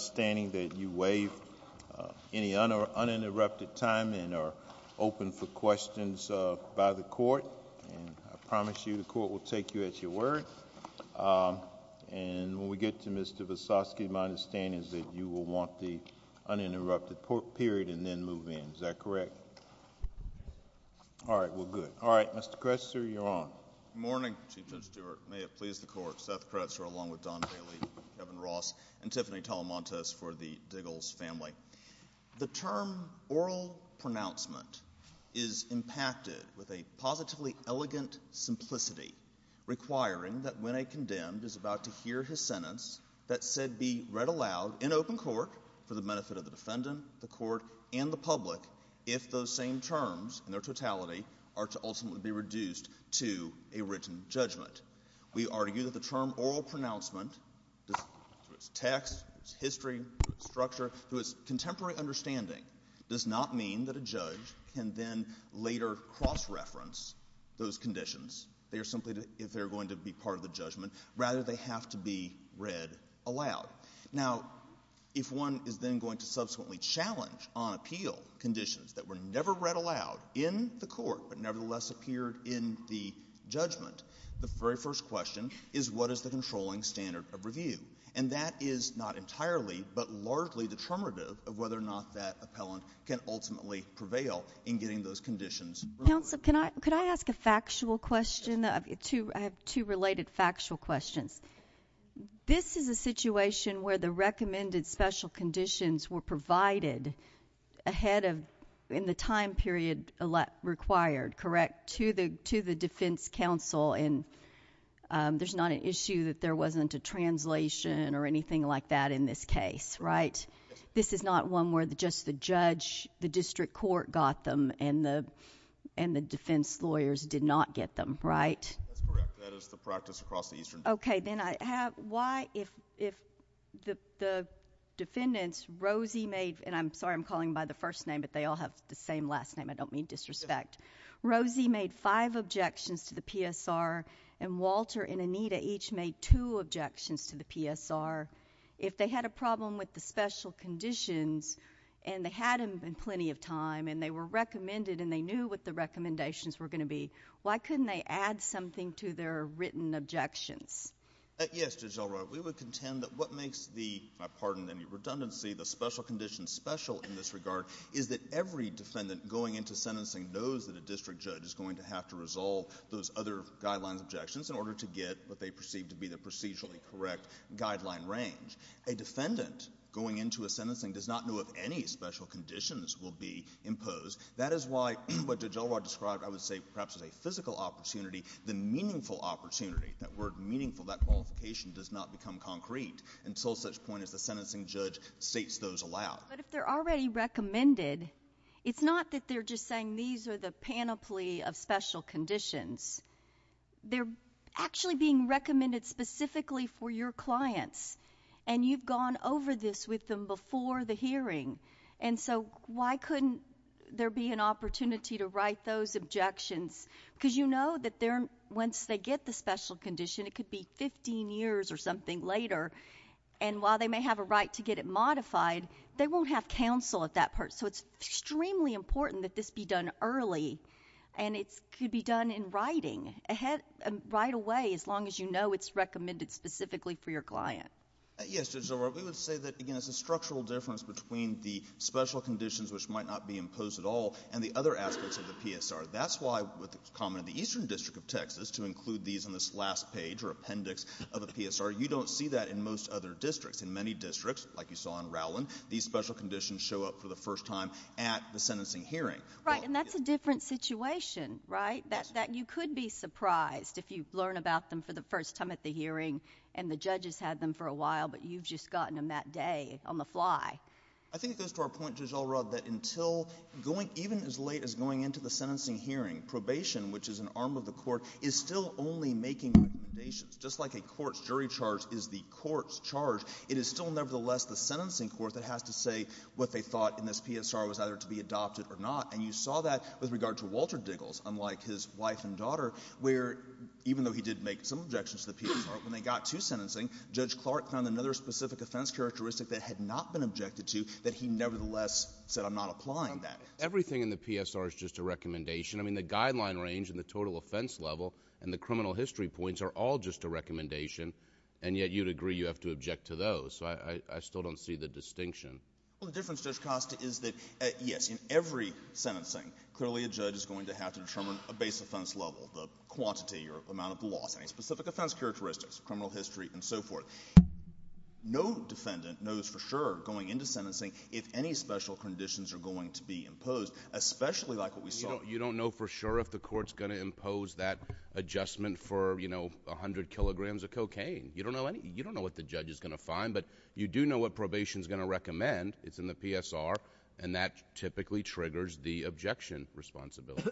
standing that you waive any uninterrupted time and are open for questions by the court. I promise you the court will take you at your word and when we get to Mr. Vesotsky, my understanding is that you will want the uninterrupted period and then move in, is that correct? All right, well good. All right, Mr. Kretzer, you're on. Good morning, Chief Judge Stewart. May it please the court, Seth Kretzer along with Don Bailey, Kevin Ross, and Tiffany Talamantes for the Diggles family. The term oral pronouncement is impacted with a positively elegant simplicity requiring that when a condemned is about to hear his sentence that said be read aloud in open court for the benefit of the defendant, the court, and the public if those same terms and their We argue that the term oral pronouncement, through its text, its history, its structure, through its contemporary understanding does not mean that a judge can then later cross-reference those conditions. They are simply, if they're going to be part of the judgment, rather they have to be read aloud. Now, if one is then going to subsequently challenge on appeal conditions that were never read aloud in the court but nevertheless appeared in the judgment, the very first question is what is the controlling standard of review? And that is not entirely but largely determinative of whether or not that appellant can ultimately prevail in getting those conditions removed. Counsel, can I ask a factual question? I have two related factual questions. This is a situation where the recommended special conditions were provided ahead of in the time period required, correct, to the defense counsel and there's not an issue that there wasn't a translation or anything like that in this case, right? This is not one where just the judge, the district court got them and the defense lawyers did not get them, right? That's correct. That is the practice across the Eastern... Okay. Then I have, why if the defendants, Rosie made... and I'm sorry I'm calling by the first name but they all have the same last name, I don't mean disrespect, Rosie made five objections to the PSR and Walter and Anita each made two objections to the PSR. If they had a problem with the special conditions and they had them in plenty of time and they were recommended and they knew what the recommendations were going to be, why couldn't they add something to their written objections? Yes, Judge Elroy, we would contend that what makes the, I pardon any redundancy, the special conditions special in this regard is that every defendant going into sentencing knows that a district judge is going to have to resolve those other guidelines objections in order to get what they perceive to be the procedurally correct guideline range. A defendant going into a sentencing does not know if any special conditions will be imposed. That is why what Judge Elroy described, I would say perhaps as a physical opportunity, the meaningful opportunity, that word meaningful, that qualification does not become concrete until such point as the sentencing judge states those aloud. But if they're already recommended, it's not that they're just saying these are the panoply of special conditions. They're actually being recommended specifically for your clients and you've gone over this with them before the hearing and so why couldn't there be an opportunity to write those objections because you know that once they get the special condition, it could be 15 years or something later and while they may have a right to get it modified, they won't have counsel at that part. So it's extremely important that this be done early and it could be done in writing right away as long as you know it's recommended specifically for your client. Yes, Judge Elroy. We would say that, again, it's a structural difference between the special conditions which might not be imposed at all and the other aspects of the PSR. That's why with the comment of the Eastern District of Texas to include these in this last page or appendix of the PSR, you don't see that in most other districts. In many districts, like you saw in Rowland, these special conditions show up for the first time at the sentencing hearing. Right. And that's a different situation, right? You could be surprised if you learn about them for the first time at the hearing and the judges had them for a while but you've just gotten them that day on the fly. I think it goes to our point, Judge Elroy, that until going even as late as going into the sentencing hearing, probation, which is an arm of the court, is still only making recommendations. Just like a court's jury charge is the court's charge, it is still nevertheless the sentencing court that has to say what they thought in this PSR was either to be adopted or not. And you saw that with regard to Walter Diggles, unlike his wife and daughter, where even though he did make some objections to the PSR, when they got to sentencing, Judge Clark found another specific offense characteristic that had not been objected to that he nevertheless said I'm not applying that. Everything in the PSR is just a recommendation. I mean, the guideline range and the total offense level and the criminal history points are all just a recommendation, and yet you'd agree you have to object to those, so I still don't see the distinction. Well, the difference, Judge Costa, is that, yes, in every sentencing, clearly a judge is going to have to determine a base offense level, the quantity or amount of the loss, any specific offense characteristics, criminal history, and so forth. No defendant knows for sure going into sentencing if any special conditions are going to be imposed, especially like what we saw. You don't know for sure if the court's going to impose that adjustment for, you know, a hundred kilograms of cocaine. You don't know what the judge is going to find, but you do know what probation's going to recommend. It's in the PSR, and that typically triggers the objection responsibility.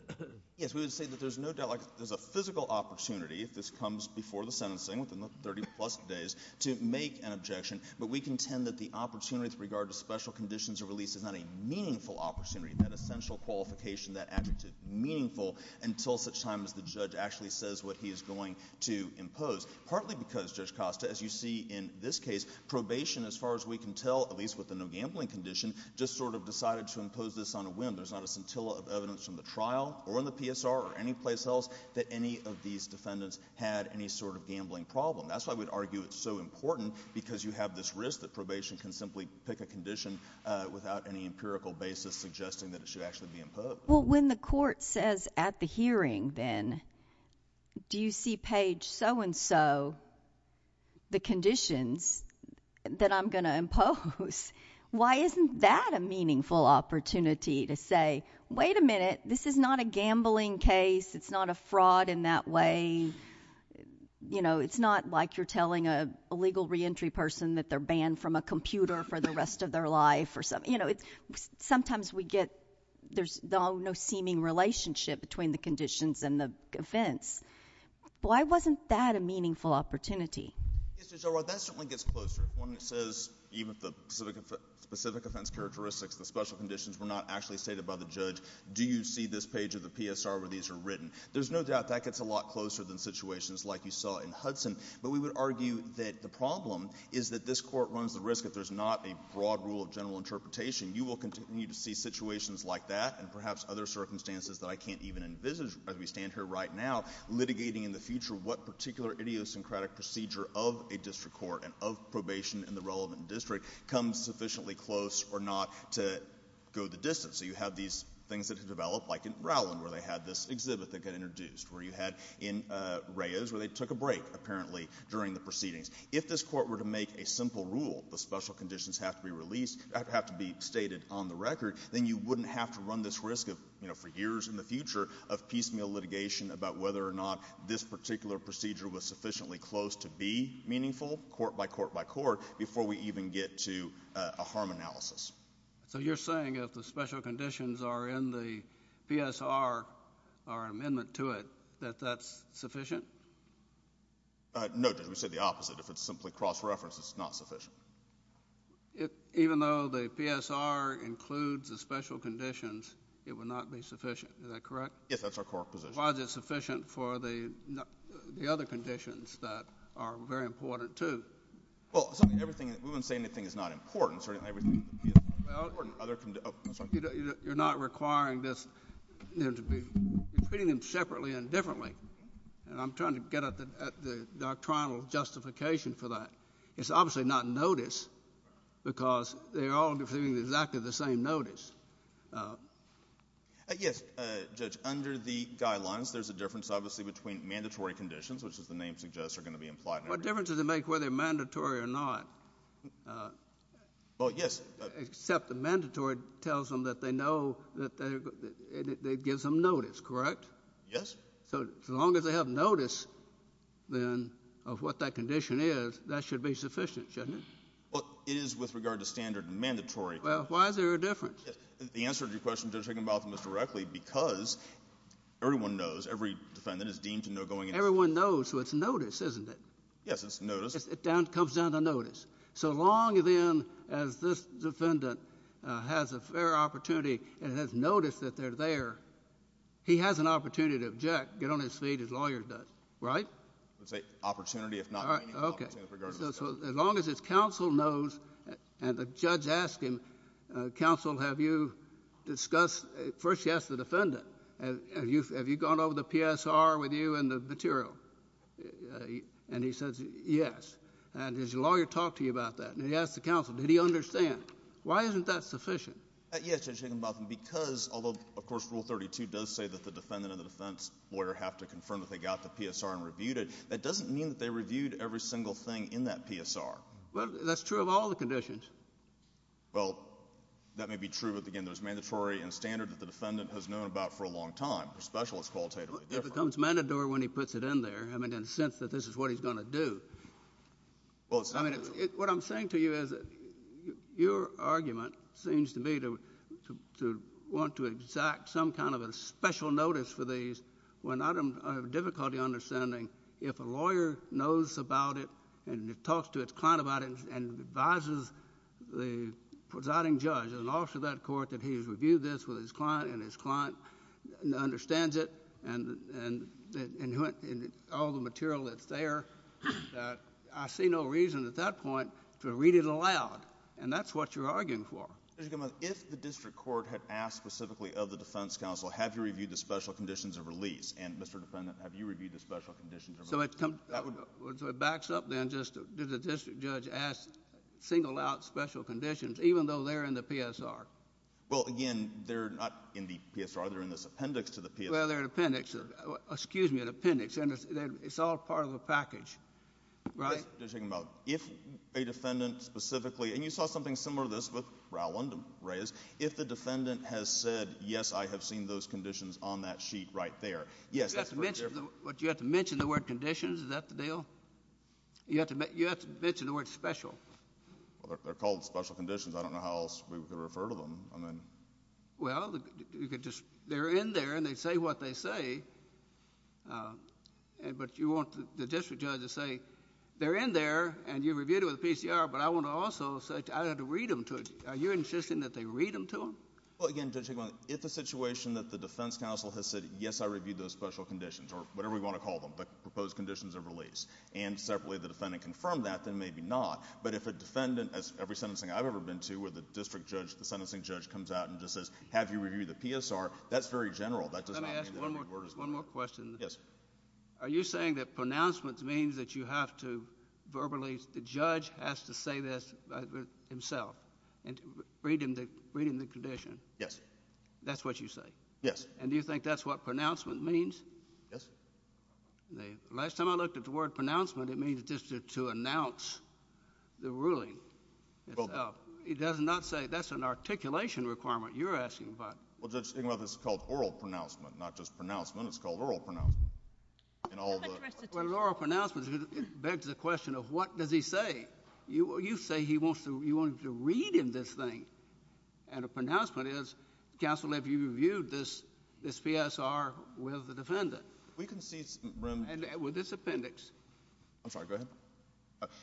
Yes, we would say that there's no doubt, like, there's a physical opportunity, if this comes before the sentencing, within the 30-plus days, to make an objection, but we contend that the opportunity with regard to special conditions of release is not a meaningful opportunity. That essential qualification, that adjective, meaningful until such time as the judge actually says what he is going to impose, partly because, Judge Costa, as you see in this case, probation, as far as we can tell, at least with the no gambling condition, just sort of decided to impose this on a whim. There's not a scintilla of evidence from the trial or in the PSR or any place else that any of these defendants had any sort of gambling problem. That's why we'd argue it's so important, because you have this risk that probation can simply pick a condition without any empirical basis suggesting that it should actually be imposed. Well, when the court says at the hearing, then, do you see page so-and-so the conditions that I'm going to impose, why isn't that a meaningful opportunity to say, wait a minute, this is not a gambling case, it's not a fraud in that way, you know, it's not like you're going to have to do this for the rest of their life or something, you know, sometimes we get, there's no seeming relationship between the conditions and the offense. Why wasn't that a meaningful opportunity? Yes, Judge O'Rourke, that certainly gets closer when it says, even if the specific offense characteristics, the special conditions were not actually stated by the judge, do you see this page of the PSR where these are written? There's no doubt that gets a lot closer than situations like you saw in Hudson, but we would argue that the problem is that this court runs the risk, if there's not a broad rule of general interpretation, you will continue to see situations like that and perhaps other circumstances that I can't even envisage as we stand here right now, litigating in the future what particular idiosyncratic procedure of a district court and of probation in the relevant district comes sufficiently close or not to go the distance. So you have these things that have developed, like in Rowland, where they had this exhibit that got introduced, where you had in Reyes, where they took a break, apparently, during the proceedings. If this court were to make a simple rule, the special conditions have to be released, have to be stated on the record, then you wouldn't have to run this risk of, you know, for years in the future of piecemeal litigation about whether or not this particular procedure was sufficiently close to be meaningful, court by court by court, before we even get to a harm analysis. So you're saying if the special conditions are in the PSR, our amendment to it, that that's sufficient? No, Judge. We said the opposite. If it's simply cross-reference, it's not sufficient. Even though the PSR includes the special conditions, it would not be sufficient, is that correct? Yes, that's our core position. Why is it sufficient for the other conditions that are very important, too? Well, something, everything, we wouldn't say anything is not important, certainly everything would be important. Well, you're not requiring this, you're treating them separately and differently, and I'm trying to get at the doctrinal justification for that. It's obviously not notice, because they're all receiving exactly the same notice. Yes, Judge, under the guidelines, there's a difference, obviously, between mandatory conditions, which, as the name suggests, are going to be implied. What difference does it make whether they're mandatory or not? Well, yes. Except the mandatory tells them that they know, it gives them notice, correct? Yes. So as long as they have notice, then, of what that condition is, that should be sufficient, shouldn't it? Well, it is with regard to standard and mandatory. Well, why is there a difference? The answer to your question, Judge Higginbotham, is directly because everyone knows, every defendant is deemed to know going into— Everyone knows, so it's notice, isn't it? Yes, it's notice. It comes down to notice. So long as this defendant has a fair opportunity and has notice that they're there, he has an opportunity to object, get on his feet, as lawyers do, right? I would say opportunity, if not meaningful opportunity, with regard to the statute. Okay. So as long as his counsel knows, and the judge asks him, counsel, have you discussed—first, yes, the defendant—have you gone over the PSR with you and the material? And he says, yes. And his lawyer talked to you about that, and he asked the counsel, did he understand? Why isn't that sufficient? Yes, Judge Higginbotham, because, although, of course, Rule 32 does say that the defendant and the defense lawyer have to confirm that they got the PSR and reviewed it, that doesn't mean that they reviewed every single thing in that PSR. Well, that's true of all the conditions. Well, that may be true, but, again, there's mandatory and standard that the defendant has known about for a long time. They're specialists, qualitatively different. It becomes mandatory when he puts it in there, I mean, in the sense that this is what he's going to do. Well, it's— I mean, what I'm saying to you is that your argument seems to me to want to exact some Mr. Higginbotham, if the district court had asked specifically of the defense counsel, have you reviewed the special conditions of release, and, Mr. Defendant, have you reviewed the special conditions of release? So it comes— That would— So it backs up, then, just did the district judge ask single out special conditions, even though they're in the PSR? Well, again, they're not in the PSR. They're in this appendix to the PSR. Well, they're an appendix. Excuse me, an appendix. And it's all part of a package, right? I'm just thinking about, if a defendant specifically—and you saw something similar to this with Rowland and Reyes. If the defendant has said, yes, I have seen those conditions on that sheet right there, yes, that's— But you have to mention the word conditions, is that the deal? You have to mention the word special. Well, they're called special conditions. I don't know how else we would refer to them. I mean— Well, they're in there, and they say what they say. But you want the district judge to say, they're in there, and you reviewed it with the PCR, but I want to also say, I had to read them to it. Are you insisting that they read them to them? Well, again, Judge Hickman, if the situation that the defense counsel has said, yes, I reviewed those special conditions, or whatever we want to call them, the proposed conditions of release, and separately the defendant confirmed that, then maybe not. But if a defendant, as every sentencing I've ever been to, where the district judge, the sentencing judge comes out and just says, have you reviewed the PSR, that's very general. Yes, sir. Yes, sir. Yes, sir. Yes, sir. Yes, sir. One more question. Yes. Are you saying that pronouncements mean that you have to verbally—the judge has to say this himself, and read him the condition? Yes. That's what you say? Yes. And do you think that's what pronouncement means? Yes. The last time I looked at the word pronouncement, it means just to announce the ruling itself. It does not say—that's an articulation requirement you're asking about. Well, Judge Stiglitz, this is called oral pronouncement, not just pronouncement. It's called oral pronouncement. In all the— Well, oral pronouncement begs the question of what does he say? You say he wants to—you want him to read him this thing. And a pronouncement is, counsel, have you reviewed this PSR with the defendant? We can see— And with this appendix. I'm sorry. Go ahead.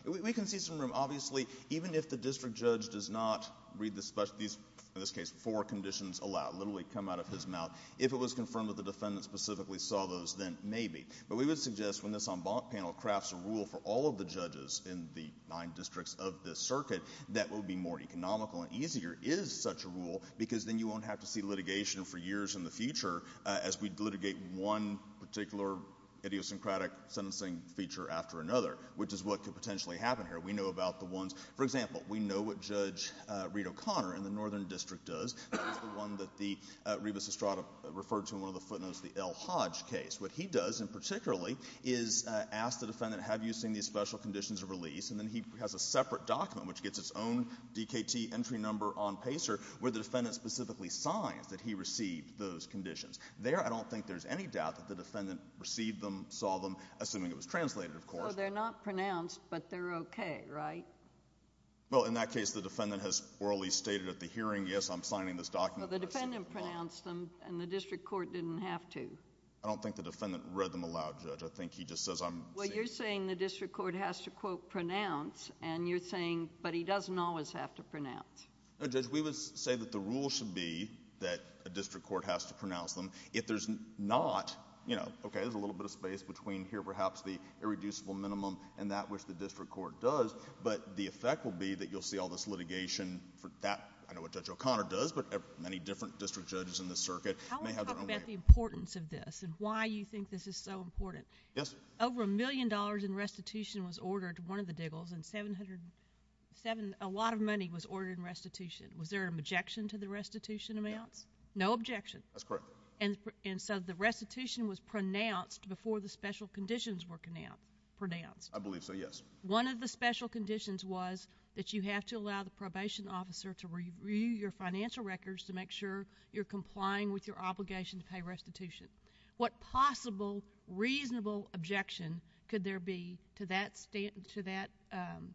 We can see some room. Obviously, even if the district judge does not read the—in this case, four conditions allow, literally come out of his mouth, if it was confirmed that the defendant specifically saw those, then maybe. But we would suggest when this en banc panel crafts a rule for all of the judges in the nine districts of this circuit that would be more economical and easier is such a rule because then you won't have to see litigation for years in the future as we litigate one particular idiosyncratic sentencing feature after another, which is what could potentially happen here. We know about the ones—for example, we know what Judge Reed O'Connor in the northern district does. That is the one that Rebus Estrada referred to in one of the footnotes, the L. Hodge case. What he does, in particular, is ask the defendant, have you seen these special conditions of release? And then he has a separate document, which gets its own DKT entry number on PASER, where the defendant specifically signs that he received those conditions. There, I don't think there's any doubt that the defendant received them, saw them, assuming it was translated, of course. So they're not pronounced, but they're okay, right? Well, in that case, the defendant has orally stated at the hearing, yes, I'm signing this document. Well, the defendant pronounced them, and the district court didn't have to. I don't think the defendant read them aloud, Judge. I think he just says, I'm— Well, you're saying the district court has to, quote, pronounce, and you're saying, but he doesn't always have to pronounce. No, Judge, we would say that the rule should be that a district court has to pronounce them. If there's not, you know, okay, there's a little bit of space between here, perhaps, the irreducible minimum and that which the district court does, but the effect will be that you'll see all this litigation for that. I know what Judge O'Connor does, but many different district judges in the circuit may have their own way of— I want to talk about the importance of this and why you think this is so important. Yes, ma'am. Over a million dollars in restitution was ordered to one of the diggles, and 700—a lot of money was ordered in restitution. Was there an objection to the restitution amounts? No. No objection? That's correct. And so the restitution was pronounced before the special conditions were pronounced? I believe so, yes. One of the special conditions was that you have to allow the probation officer to review your financial records to make sure you're complying with your obligation to pay restitution. What possible reasonable objection could there be to that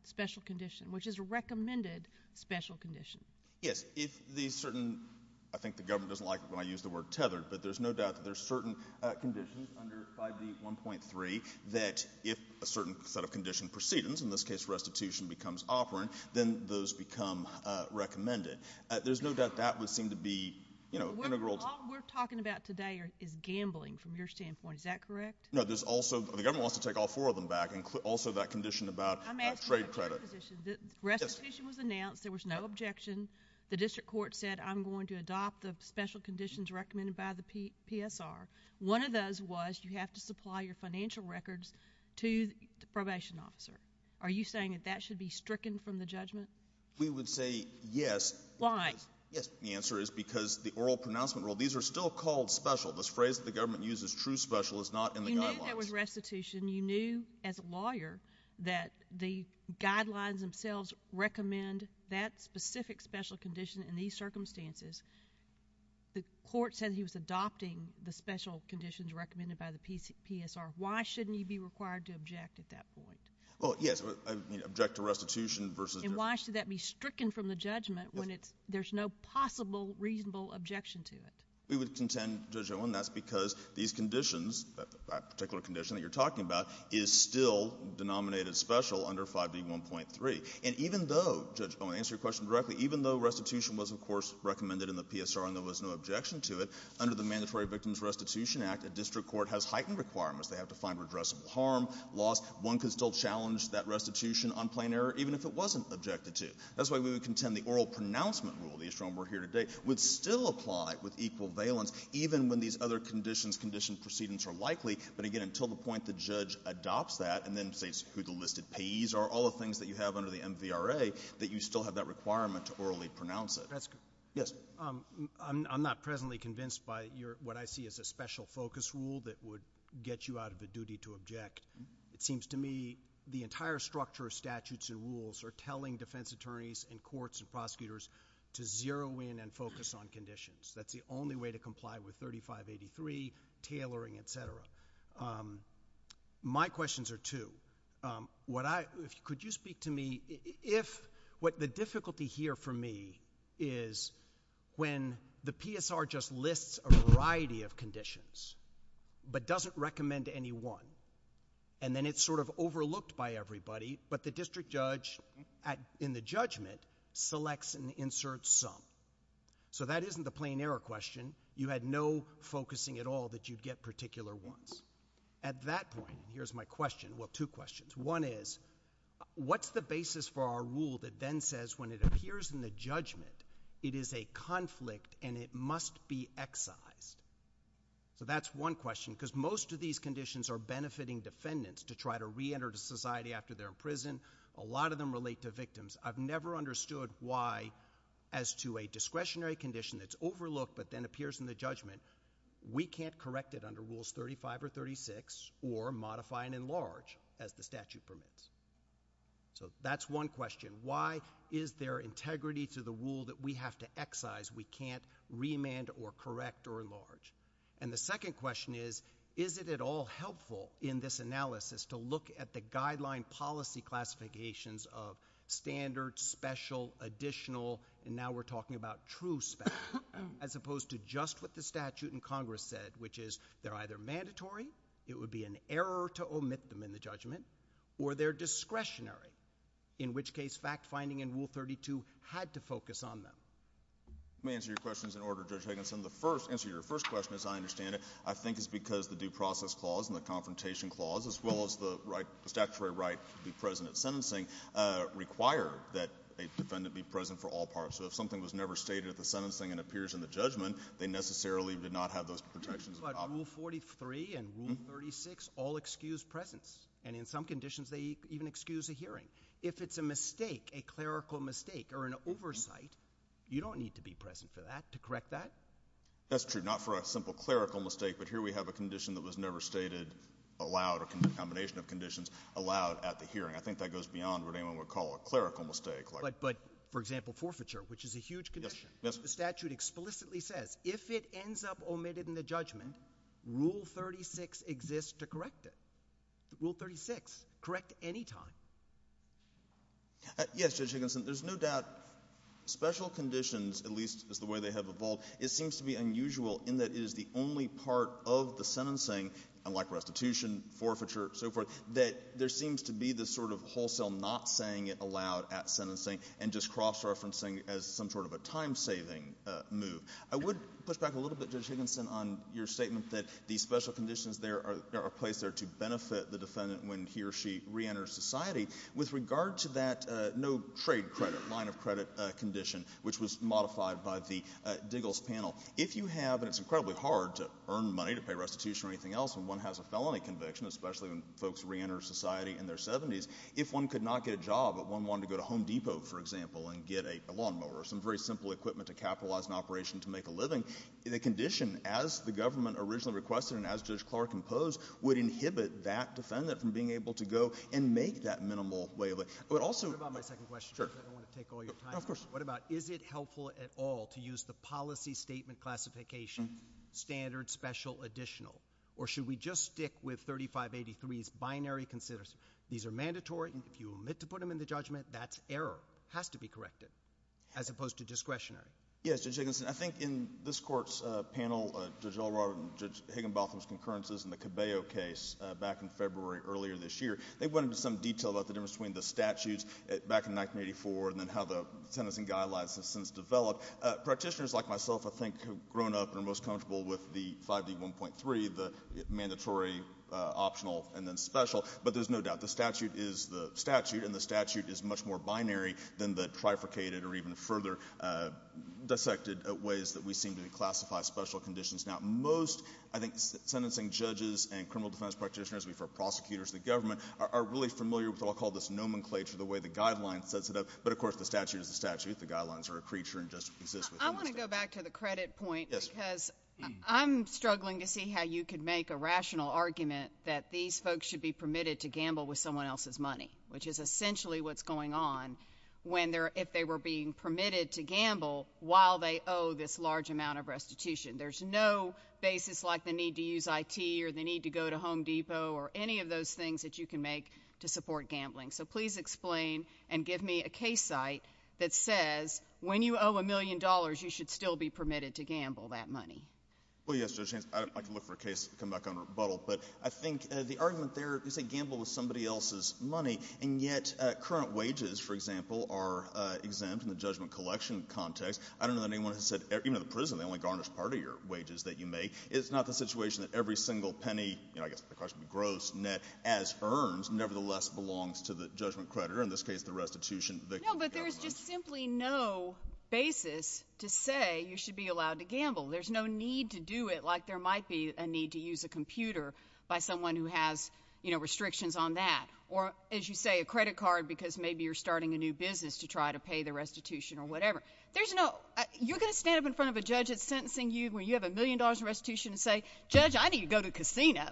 special condition, which is a recommended special condition? Yes. If the certain—I think the government doesn't like it when I use the word tethered, but there's no doubt that there's certain conditions under 5D1.3 that if a certain set of condition precedence, in this case restitution, becomes operant, then those become recommended. There's no doubt that would seem to be, you know, integral to— All we're talking about today is gambling from your standpoint. Is that correct? No, there's also—the government wants to take all four of them back, and also that condition about trade credit. I'm asking about your position. The restitution was announced. There was no objection. The district court said, I'm going to adopt the special conditions recommended by the PSR. One of those was you have to supply your financial records to the probation officer. Are you saying that that should be stricken from the judgment? We would say yes. Why? Yes. The answer is because the oral pronouncement rule—these are still called special. This phrase that the government uses, true special, is not in the guidelines. You knew there was restitution. You knew as a lawyer that the guidelines themselves recommend that specific special condition in these circumstances. The court said he was adopting the special conditions recommended by the PSR. Why shouldn't he be required to object at that point? Well, yes. Object to restitution versus— And why should that be stricken from the judgment when there's no possible reasonable objection to it? We would contend, Judge Owen, that's because these conditions, that particular condition that you're talking about, is still denominated special under 5B1.3. And even though, Judge Owen, to answer your question directly, even though restitution was, of course, recommended in the PSR and there was no objection to it, under the Mandatory Victims Restitution Act, a district court has heightened requirements. They have to find redressable harm, loss. One could still challenge that restitution on plain error even if it wasn't objected to. That's why we would contend the oral pronouncement rule, the issue on which we're here today, would still apply with equal valence even when these other conditions, precedents, are likely. But again, until the point the judge adopts that and then says who the listed payees are, all the things that you have under the MVRA, that you still have that requirement to orally pronounce it. That's good. Yes. I'm not presently convinced by what I see as a special focus rule that would get you out of the duty to object. It seems to me the entire structure of statutes and rules are telling defense attorneys and courts and prosecutors to zero in and focus on conditions. That's the only way to comply with 3583, tailoring, et cetera. My questions are two. Could you speak to me if what the difficulty here for me is when the PSR just lists a variety of conditions but doesn't recommend any one, and then it's sort of overlooked by everybody, but the district judge in the judgment selects and inserts some. That isn't the plain error question. You had no focusing at all that you'd get particular ones. At that point, here's my question. Well, two questions. One is, what's the basis for our rule that then says when it appears in the judgment, it is a conflict and it must be excised? That's one question because most of these conditions are benefiting defendants to try to reenter society after they're in prison. A lot of them relate to victims. I've never understood why as to a discretionary condition that's overlooked but then appears in the judgment, we can't correct it under rules 35 or 36 or modify and enlarge as the statute permits. So that's one question. Why is there integrity to the rule that we have to excise? We can't remand or correct or enlarge. And the second question is, is it at all helpful in this analysis to look at the guideline policy classifications of standard, special, additional, and now we're talking about true special, as opposed to just what the statute in Congress said, which is they're either mandatory, it would be an error to omit them in the judgment, or they're discretionary, in which case fact-finding in Rule 32 had to focus on them. Let me answer your questions in order, Judge Higginson. The answer to your first question, as I understand it, I think is because the due process clause and the confrontation clause, as well as the statutory right to be present at sentencing, require that a defendant be present for all parts. So if something was never stated at the sentencing and appears in the judgment, they necessarily did not have those protections. But Rule 43 and Rule 36 all excuse presence. And in some conditions, they even excuse a hearing. If it's a mistake, a clerical mistake or an oversight, you don't need to be present for that to correct that. That's true, not for a simple clerical mistake. But here we have a condition that was never stated allowed, a combination of conditions allowed at the hearing. I think that goes beyond what anyone would call a clerical mistake. But, for example, forfeiture, which is a huge condition. Yes. The statute explicitly says if it ends up omitted in the judgment, Rule 36 exists to correct it. Rule 36, correct any time. Yes, Judge Higginson. There's no doubt special conditions, at least as the way they have evolved, it seems to be unusual in that it is the only part of the sentencing, unlike restitution, forfeiture, so forth, that there seems to be this sort of wholesale not saying it allowed at sentencing and just cross-referencing as some sort of a time-saving move. I would push back a little bit, Judge Higginson, on your statement that the special conditions there are placed there to benefit the defendant when he or she reenters society. With regard to that no trade credit, line of credit condition, which was modified by the Diggles Panel, if you have, and it's incredibly hard to earn money to pay restitution or anything else when one has a felony conviction, especially when folks reenter society in their 70s, if one could not get a job but one wanted to go to Home Depot, for example, and get a lawnmower or some very simple equipment to capitalize an operation to make a living, the condition, as the government originally requested and as Judge Clark imposed, would inhibit that defendant from being able to go and make that minimal way of living. What about my second question? Sure. I don't want to take all your time. Of course. What about is it helpful at all to use the policy statement classification standard special additional, or should we just stick with 3583's binary considerations? These are mandatory, and if you omit to put them in the judgment, that's error. It has to be corrected, as opposed to discretionary. Yes, Judge Higginson. I think in this Court's panel, Judge Elrod and Judge Higginbotham's concurrences in the Cabello case back in February earlier this year, they went into some detail about the difference between the statutes back in 1984 and then how the sentencing guidelines have since developed. Practitioners like myself, I think, have grown up and are most comfortable with the 5D1.3, the mandatory, optional, and then special, but there's no doubt the statute is the statute, and the statute is much more binary than the trifurcated or even further dissected ways that we seem to classify special conditions. Now, most, I think, sentencing judges and criminal defense practitioners, we've heard prosecutors, the government, are really familiar with what I'll call this nomenclature, the way the guidelines sets it up, but, of course, the statute is the statute. The guidelines are a creature and just exist within the statute. I want to go back to the credit point because I'm struggling to see how you could make a rational argument that these folks should be permitted to gamble with someone else's money, which is essentially what's going on if they were being permitted to gamble while they owe this large amount of restitution. There's no basis like the need to use IT or the need to go to Home Depot or any of those things that you can make to support gambling. So please explain and give me a case site that says when you owe a million dollars, you should still be permitted to gamble that money. Well, yes, Judge Haynes. I can look for a case and come back on rebuttal, but I think the argument there is they gamble with somebody else's money, and yet current wages, for example, are exempt in the judgment collection context. I don't know that anyone has said, even in the prison, they only garnish part of your wages that you make. It's not the situation that every single penny, I guess the question would be gross, net, as earned, nevertheless belongs to the judgment creditor, in this case the restitution victim. No, but there's just simply no basis to say you should be allowed to gamble. There's no need to do it like there might be a need to use a computer by someone who has restrictions on that or, as you say, a credit card because maybe you're starting a new business to try to pay the restitution or whatever. You're going to stand up in front of a judge that's sentencing you when you have a million dollars in restitution and say, Judge, I need to go to a casino.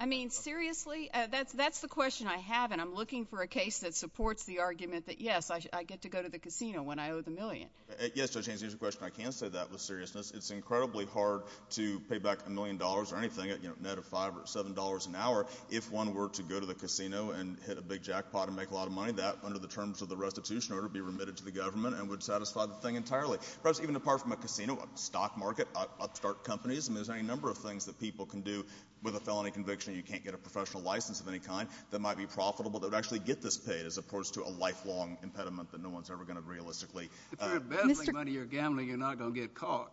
I mean, seriously, that's the question I have, and I'm looking for a case that supports the argument that, yes, I get to go to the casino when I owe the million. Yes, Judge Haynes, here's the question. I can say that with seriousness. It's incredibly hard to pay back a million dollars or anything, a net of $5 or $7 an hour, if one were to go to the casino and hit a big jackpot and make a lot of money. That, under the terms of the restitution order, would be remitted to the government and would satisfy the thing entirely. Perhaps even apart from a casino, a stock market, upstart companies, there's any number of things that people can do with a felony conviction and you can't get a professional license of any kind that might be profitable that would actually get this paid as opposed to a lifelong impediment that no one's ever going to realistically. If you're embezzling money, you're gambling, you're not going to get caught.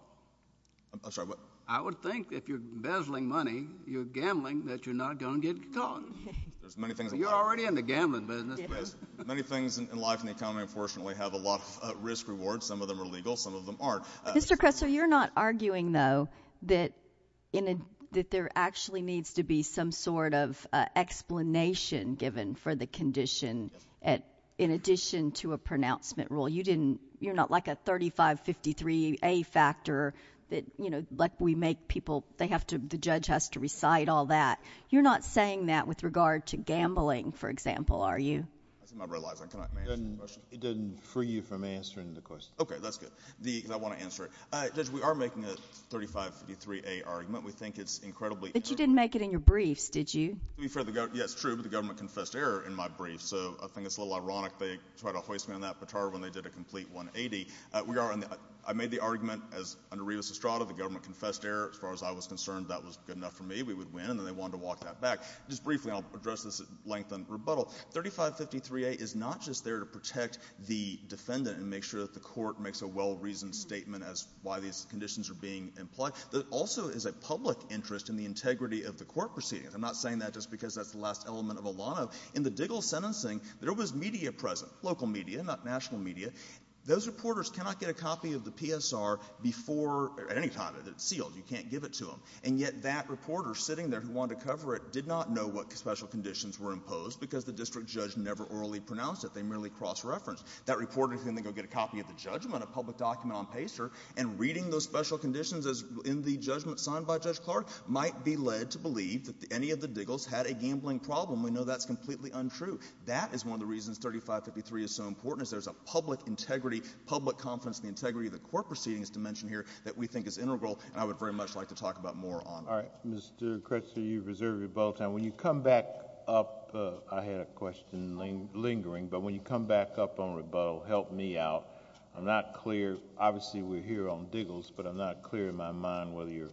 I'm sorry, what? I would think if you're embezzling money, you're gambling, that you're not going to get caught. You're already in the gambling business. Many things in life and the economy, unfortunately, have a lot of risk-reward. Some of them are legal. Some of them aren't. Mr. Kressel, you're not arguing, though, that there actually needs to be some sort of explanation given for the condition in addition to a pronouncement rule. You're not like a 3553A factor that, you know, like we make people, the judge has to recite all that. You're not saying that with regard to gambling, for example, are you? I see my red light. Can I answer the question? It doesn't free you from answering the question. Okay, that's good because I want to answer it. Judge, we are making a 3553A argument. We think it's incredibly— But you didn't make it in your briefs, did you? Yes, it's true, but the government confessed error in my brief. So I think it's a little ironic they tried to hoist me on that baton when they did a complete 180. I made the argument as under Revis Estrada, the government confessed error. As far as I was concerned, that was good enough for me. We would win, and then they wanted to walk that back. Just briefly, and I'll address this at length in rebuttal, 3553A is not just there to protect the defendant and make sure that the court makes a well-reasoned statement as to why these conditions are being implied. It also is a public interest in the integrity of the court proceedings. I'm not saying that just because that's the last element of a lot of— In the Diggle sentencing, there was media present, local media, not national media. Those reporters cannot get a copy of the PSR before—at any time. It's sealed. You can't give it to them. And yet that reporter sitting there who wanted to cover it did not know what special conditions were imposed because the district judge never orally pronounced it. They merely cross-referenced. That reporter can then go get a copy of the judgment, a public document on PSR, and reading those special conditions in the judgment signed by Judge Clark might be led to believe that any of the Diggles had a gambling problem. We know that's completely untrue. That is one of the reasons 3553 is so important, is there's a public integrity, public confidence in the integrity of the court proceedings to mention here that we think is integral, and I would very much like to talk about more on that. All right. Mr. Kretzer, you've reserved your bulletin. When you come back up—I had a question lingering, but when you come back up on rebuttal, help me out. I'm not clear. Obviously, we're here on Diggles, but I'm not clear in my mind whether you're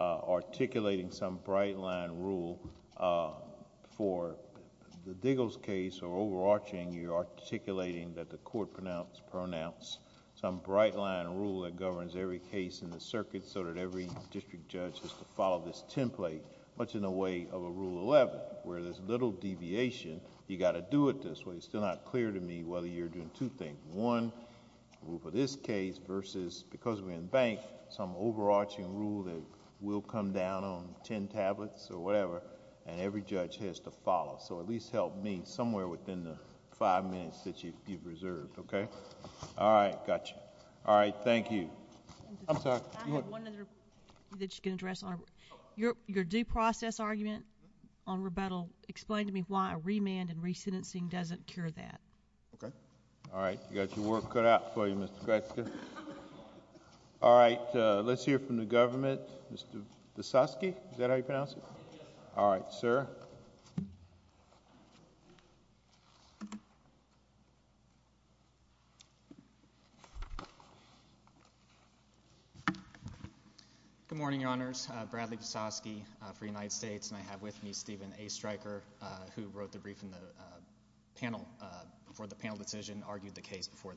articulating some bright line rule for the Diggles case or overarching your articulating that the court pronounced some bright line rule that governs every case in the circuit so that every district judge has to follow this template, much in the way of a Rule 11, where there's little deviation. You got to do it this way. It's still not clear to me whether you're doing two things. One, rule for this case versus, because we're in bank, some overarching rule that will come down on ten tablets or whatever, and every judge has to follow. At least help me somewhere within the five minutes that you've reserved. Okay? All right. Got you. All right. Thank you. I'm sorry. Go ahead. I have one other that you can address. Your due process argument on rebuttal, explain to me why a remand and re-sentencing doesn't cure that. Okay. All right. You got your work cut out for you, Mr. Gretzky. All right. Let's hear from the government. Mr. Visosky, is that how you pronounce it? Yes. All right. Sir. Good morning, Your Honors. I'm Bradley Visosky for the United States, and I have with me Stephen A. Stryker, who wrote the brief before the panel decision, argued the case before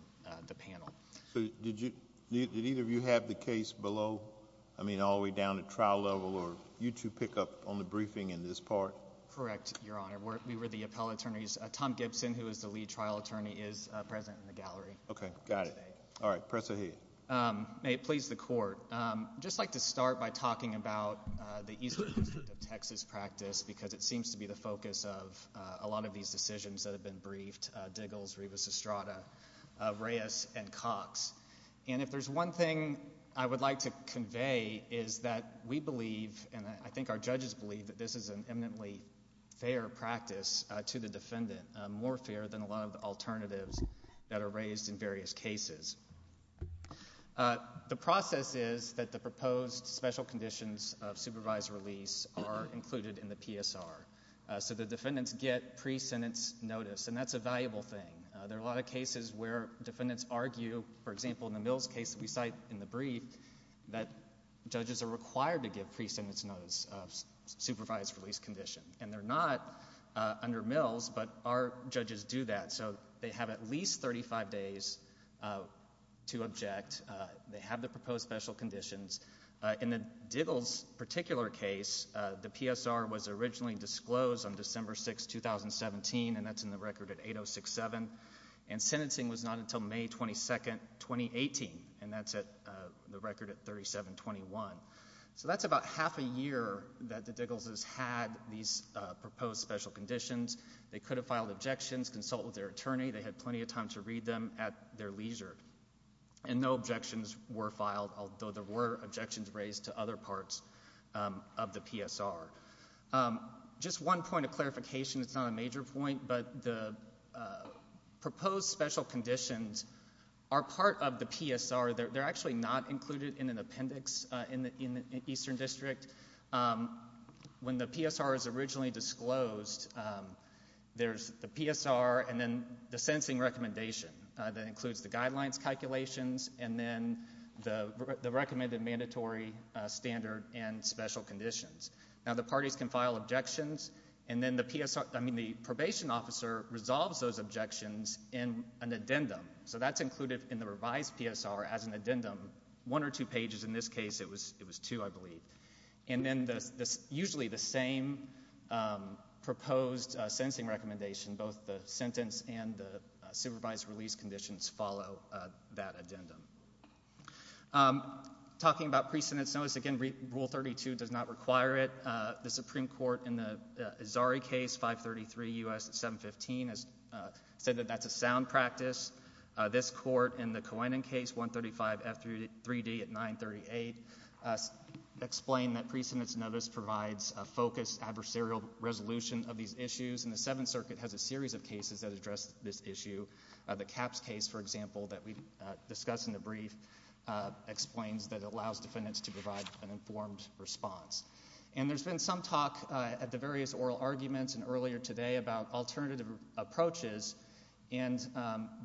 the panel. Did either of you have the case below, I mean, all the way down to trial level, or you two pick up on the briefing in this part? Correct, Your Honor. We were the appellate attorneys. Tom Gibson, who is the lead trial attorney, is present in the gallery. Okay. Got it. All right. Press ahead. May it please the Court. I'd just like to start by talking about the Eastern District of Texas practice, because it seems to be the focus of a lot of these decisions that have been briefed, Diggles, Rivas-Estrada, Reyes, and Cox. And if there's one thing I would like to convey is that we believe, and I think our judges believe, that this is an eminently fair practice to the defendant, more fair than a lot of the alternatives that are raised in various cases. The process is that the proposed special conditions of supervised release are included in the PSR. So the defendants get pre-sentence notice, and that's a valuable thing. There are a lot of cases where defendants argue, for example, in the Mills case that we cite in the brief, that judges are required to give pre-sentence notice of supervised release condition. And they're not under Mills, but our judges do that. So they have at least 35 days to object. They have the proposed special conditions. In the Diggles particular case, the PSR was originally disclosed on December 6, 2017, and that's in the record at 8067. And sentencing was not until May 22, 2018, and that's the record at 3721. So that's about half a year that the Diggles has had these proposed special conditions. They could have filed objections, consulted their attorney. They had plenty of time to read them at their leisure. And no objections were filed, although there were objections raised to other parts of the PSR. Just one point of clarification. It's not a major point, but the proposed special conditions are part of the PSR. They're actually not included in an appendix in the Eastern District. When the PSR is originally disclosed, there's the PSR and then the sentencing recommendation. That includes the guidelines calculations and then the recommended mandatory standard and special conditions. Now, the parties can file objections, and then the PSR, I mean, the probation officer resolves those objections in an addendum. So that's included in the revised PSR as an addendum, one or two pages. In this case, it was two, I believe. And then usually the same proposed sentencing recommendation, both the sentence and the supervised release conditions follow that addendum. Talking about pre-sentence notice, again, Rule 32 does not require it. The Supreme Court in the Azari case, 533 U.S. 715, has said that that's a sound practice. This court in the Coenen case, 135 F3D at 938, explained that pre-sentence notice provides a focused adversarial resolution of these issues. And the Seventh Circuit has a series of cases that address this issue. The Capps case, for example, that we discussed in the brief, explains that it allows defendants to provide an informed response. And there's been some talk at the various oral arguments and earlier today about alternative approaches. And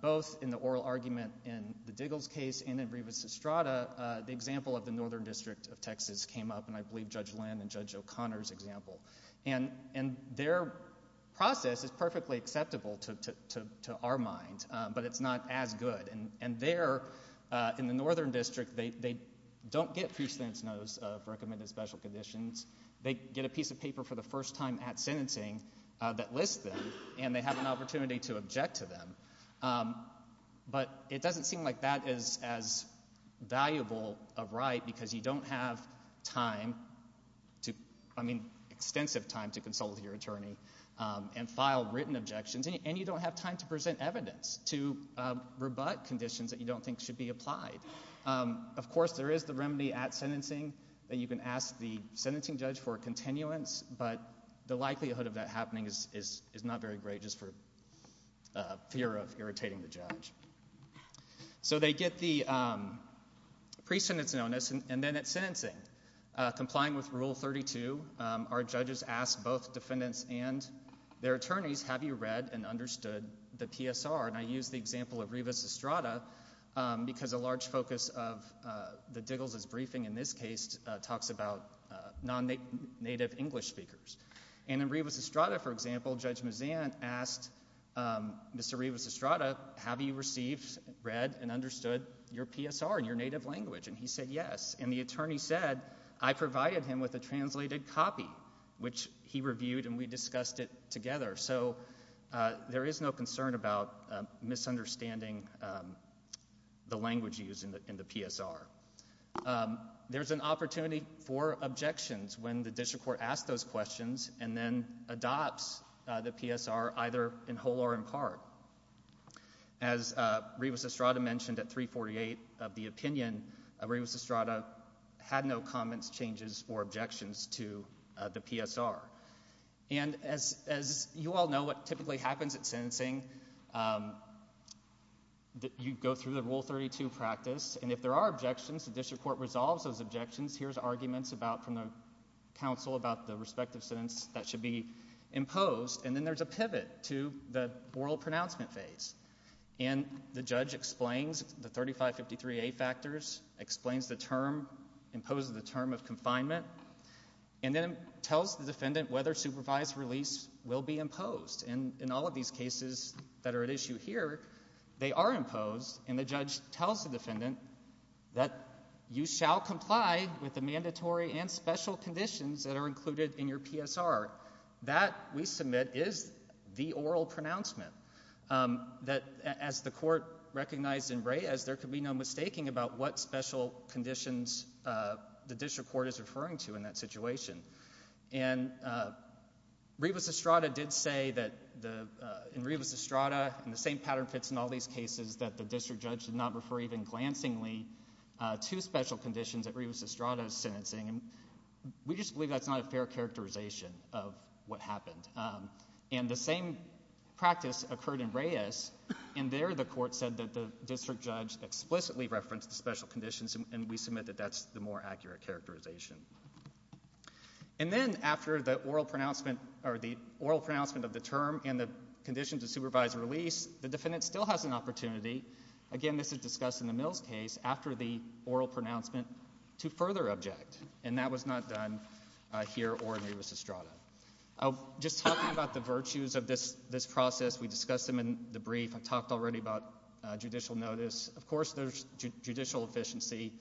both in the oral argument in the Diggles case and in Brevis Estrada, the example of the Northern District of Texas came up, and I believe Judge Lynn and Judge O'Connor's example. And their process is perfectly acceptable to our mind, but it's not as good. And there in the Northern District, they don't get pre-sentence notice of recommended special conditions. They get a piece of paper for the first time at sentencing that lists them, and they have an opportunity to object to them. But it doesn't seem like that is as valuable a right because you don't have time to, I mean extensive time to consult with your attorney and file written objections, and you don't have time to present evidence to rebut conditions that you don't think should be applied. Of course, there is the remedy at sentencing that you can ask the sentencing judge for a continuance, but the likelihood of that happening is not very great just for fear of irritating the judge. So they get the pre-sentence notice, and then at sentencing, complying with Rule 32, our judges ask both defendants and their attorneys, have you read and understood the PSR? And I use the example of Brevis Estrada because a large focus of the Diggles' briefing in this case talks about non-native English speakers. And in Brevis Estrada, for example, Judge Mazzan asked Mr. Brevis Estrada, have you received, read, and understood your PSR in your native language? And he said yes, and the attorney said, I provided him with a translated copy, which he reviewed, and we discussed it together. So there is no concern about misunderstanding the language used in the PSR. There's an opportunity for objections when the district court asks those questions and then adopts the PSR either in whole or in part. As Brevis Estrada mentioned at 348 of the opinion, Brevis Estrada had no comments, changes, or objections to the PSR. And as you all know, what typically happens at sentencing, you go through the Rule 32 practice, and if there are objections, the district court resolves those objections, hears arguments from the counsel about the respective sentence that should be imposed, and then there's a pivot to the oral pronouncement phase. And the judge explains the 3553A factors, explains the term, imposes the term of confinement, and then tells the defendant whether supervised release will be imposed. And in all of these cases that are at issue here, they are imposed, and the judge tells the defendant that you shall comply with the mandatory and special conditions that are included in your PSR. That, we submit, is the oral pronouncement. As the court recognized in Reyes, there can be no mistaking about what special conditions the district court is referring to in that situation. And Brevis Estrada did say that in Brevis Estrada, and the same pattern fits in all these cases, that the district judge did not refer even glancingly to special conditions that Brevis Estrada is sentencing. We just believe that's not a fair characterization of what happened. And the same practice occurred in Reyes, and there the court said that the district judge explicitly referenced the special conditions, and we submit that that's the more accurate characterization. And then after the oral pronouncement of the term and the condition to supervise release, the defendant still has an opportunity, again this is discussed in the Mills case, after the oral pronouncement to further object. And that was not done here or in Brevis Estrada. Just talking about the virtues of this process, we discussed them in the brief. I've talked already about judicial notice. Of course there's judicial efficiency.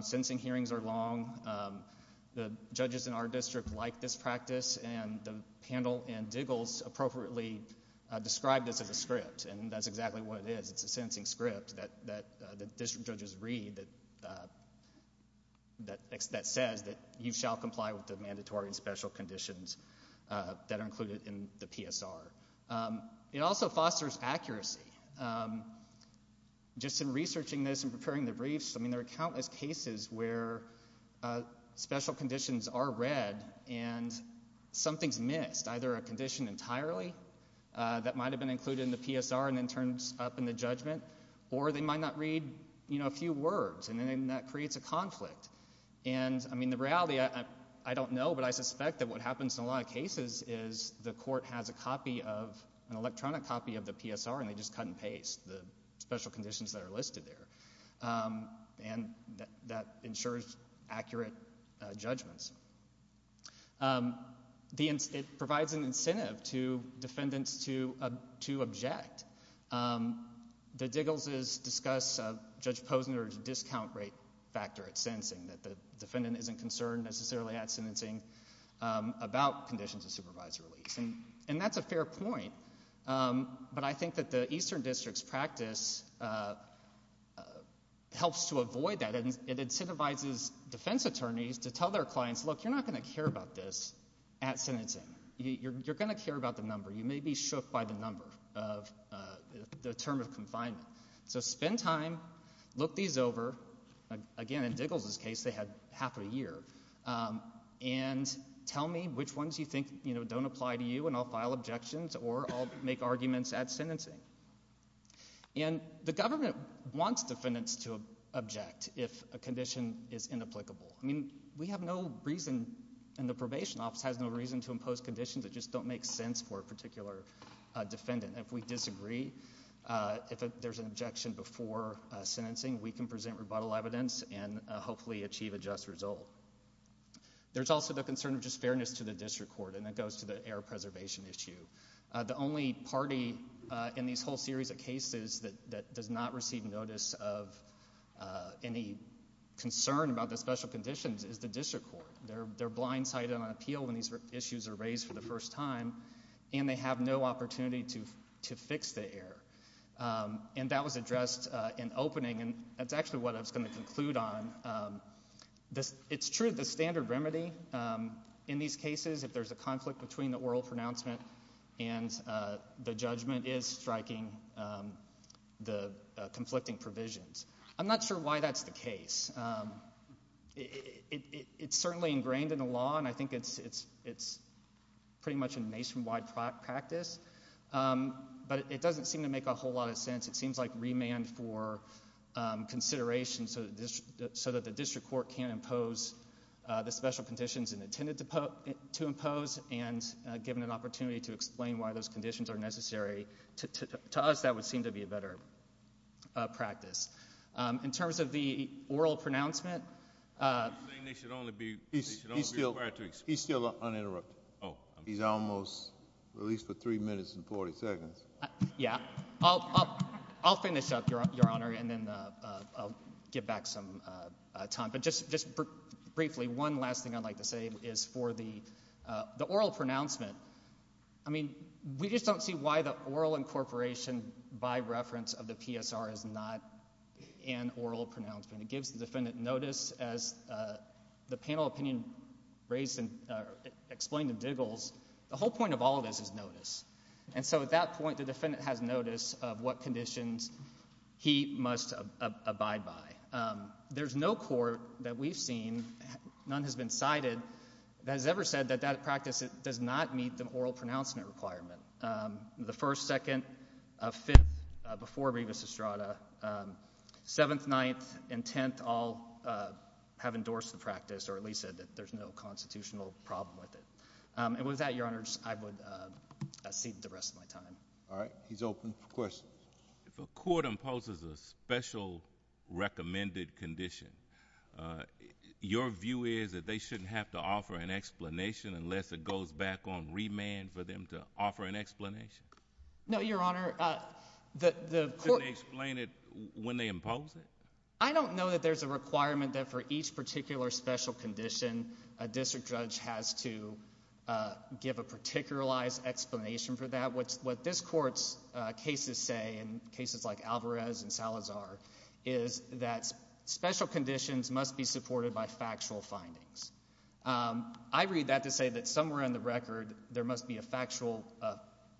Sentencing hearings are long. The judges in our district like this practice, and the panel in Diggles appropriately described this as a script, and that's exactly what it is. It's a sentencing script that the district judges read that says that you shall comply with the mandatory and special conditions that are included in the PSR. It also fosters accuracy. Just in researching this and preparing the briefs, I mean there are countless cases where special conditions are read and something's missed, either a condition entirely that might have been included in the PSR and then turns up in the judgment, or they might not read a few words, and then that creates a conflict. And, I mean, the reality, I don't know, but I suspect that what happens in a lot of cases is the court has a copy of, an electronic copy of the PSR, and they just cut and paste the special conditions that are listed there, and that ensures accurate judgments. It provides an incentive to defendants to object. The Diggles' discuss Judge Posner's discount rate factor at sentencing, that the defendant isn't concerned necessarily at sentencing about conditions of supervisory release, and that's a fair point, but I think that the Eastern District's practice helps to avoid that. It incentivizes defense attorneys to tell their clients, look, you're not going to care about this at sentencing. You're going to care about the number. You may be shook by the number of the term of confinement. So spend time, look these over. Again, in Diggles' case, they had half of a year. And tell me which ones you think don't apply to you, and I'll file objections, or I'll make arguments at sentencing. And the government wants defendants to object if a condition is inapplicable. I mean, we have no reason, and the probation office has no reason to impose conditions that just don't make sense for a particular defendant. If we disagree, if there's an objection before sentencing, we can present rebuttal evidence and hopefully achieve a just result. There's also the concern of just fairness to the district court, and that goes to the air preservation issue. The only party in this whole series of cases that does not receive notice of any concern about the special conditions is the district court. They're blindsided on appeal when these issues are raised for the first time, and they have no opportunity to fix the error. And that was addressed in opening, and that's actually what I was going to conclude on. It's true, the standard remedy in these cases, if there's a conflict between the oral pronouncement and the judgment, is striking the conflicting provisions. I'm not sure why that's the case. It's certainly ingrained in the law, and I think it's pretty much a nationwide practice, but it doesn't seem to make a whole lot of sense. It seems like remand for consideration so that the district court can't impose the special conditions it intended to impose and given an opportunity to explain why those conditions are necessary. To us, that would seem to be a better practice. In terms of the oral pronouncement— You're saying they should only be required to— He's still uninterrupted. He's almost released for three minutes and 40 seconds. Yeah. I'll finish up, Your Honor, and then I'll give back some time. But just briefly, one last thing I'd like to say is for the oral pronouncement. I mean, we just don't see why the oral incorporation by reference of the PSR is not an oral pronouncement. It gives the defendant notice as the panel opinion explained to Diggles. The whole point of all this is notice, and so at that point, the defendant has notice of what conditions he must abide by. There's no court that we've seen, none has been cited, that has ever said that that practice does not meet the oral pronouncement requirement. The 1st, 2nd, 5th, before Rivas-Estrada, 7th, 9th, and 10th all have endorsed the practice or at least said that there's no constitutional problem with it. And with that, Your Honors, I would cede the rest of my time. All right. He's open for questions. If a court imposes a special recommended condition, your view is that they shouldn't have to offer an explanation unless it goes back on remand for them to offer an explanation? No, Your Honor. Shouldn't they explain it when they impose it? I don't know that there's a requirement that for each particular special condition, a district judge has to give a particularized explanation for that. What this Court's cases say in cases like Alvarez and Salazar is that special conditions must be supported by factual findings. I read that to say that somewhere in the record, there must be a factual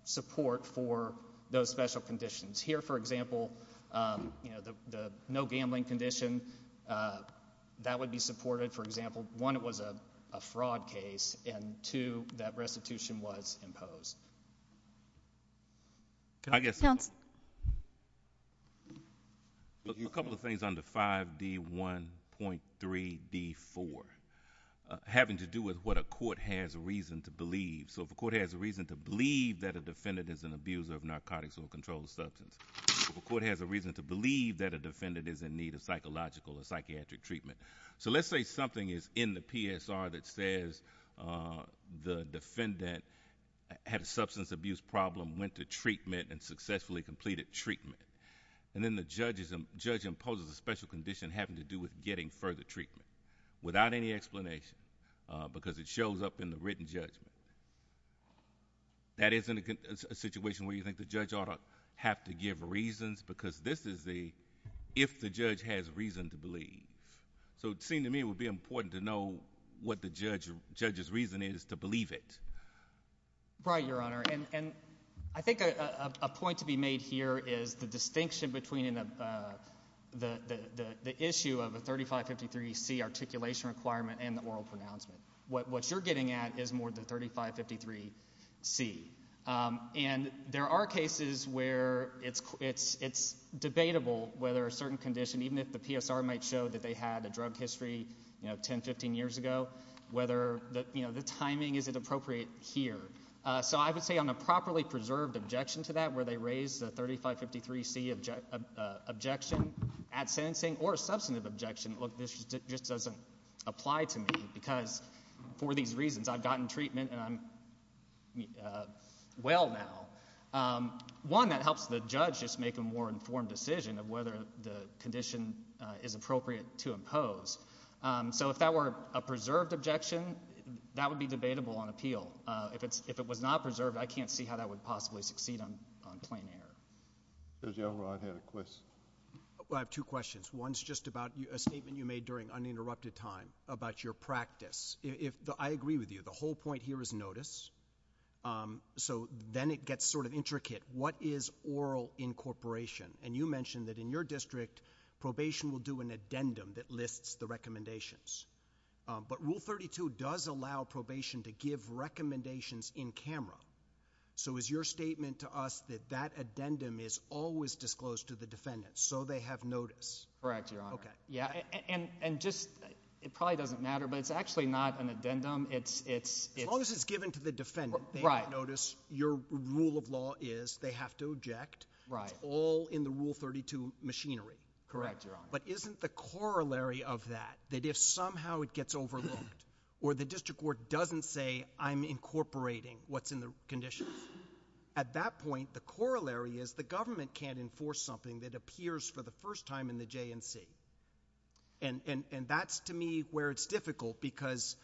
support for those special conditions. Here, for example, the no gambling condition, that would be supported, for example. One, it was a fraud case, and two, that restitution was imposed. I guess— Counsel. A couple of things on the 5D1.3D4, having to do with what a court has reason to believe. So if a court has a reason to believe that a defendant is an abuser of narcotics or a controlled substance, if a court has a reason to believe that a defendant is in need of psychological or psychiatric treatment. Let's say something is in the PSR that says the defendant had a substance abuse problem, went to treatment, and successfully completed treatment. Then the judge imposes a special condition having to do with getting further treatment without any explanation because it shows up in the written judgment. That isn't a situation where you think the judge ought to have to give reasons because this is the if the judge has reason to believe. So it seemed to me it would be important to know what the judge's reason is to believe it. Right, Your Honor. And I think a point to be made here is the distinction between the issue of a 3553C articulation requirement and the oral pronouncement. What you're getting at is more the 3553C. And there are cases where it's debatable whether a certain condition, even if the PSR might show that they had a drug history 10, 15 years ago, whether the timing isn't appropriate here. So I would say on a properly preserved objection to that where they raise the 3553C objection at sentencing or a substantive objection, look, this just doesn't apply to me because for these reasons I've gotten treatment and I'm well now. One, that helps the judge just make a more informed decision of whether the condition is appropriate to impose. So if that were a preserved objection, that would be debatable on appeal. If it was not preserved, I can't see how that would possibly succeed on plain error. Judge Elrod had a question. I have two questions. One's just about a statement you made during uninterrupted time about your practice. I agree with you. The whole point here is notice. So then it gets sort of intricate. What is oral incorporation? And you mentioned that in your district, probation will do an addendum that lists the recommendations. But Rule 32 does allow probation to give recommendations in camera. So is your statement to us that that addendum is always disclosed to the defendant so they have notice? Correct, Your Honor. Okay. And just it probably doesn't matter, but it's actually not an addendum. As long as it's given to the defendant, they have notice. Your rule of law is they have to object. Correct, Your Honor. But isn't the corollary of that, that if somehow it gets overlooked or the district court doesn't say I'm incorporating what's in the conditions, at that point, the corollary is the government can't enforce something that appears for the first time in the J&C. And that's, to me, where it's difficult because,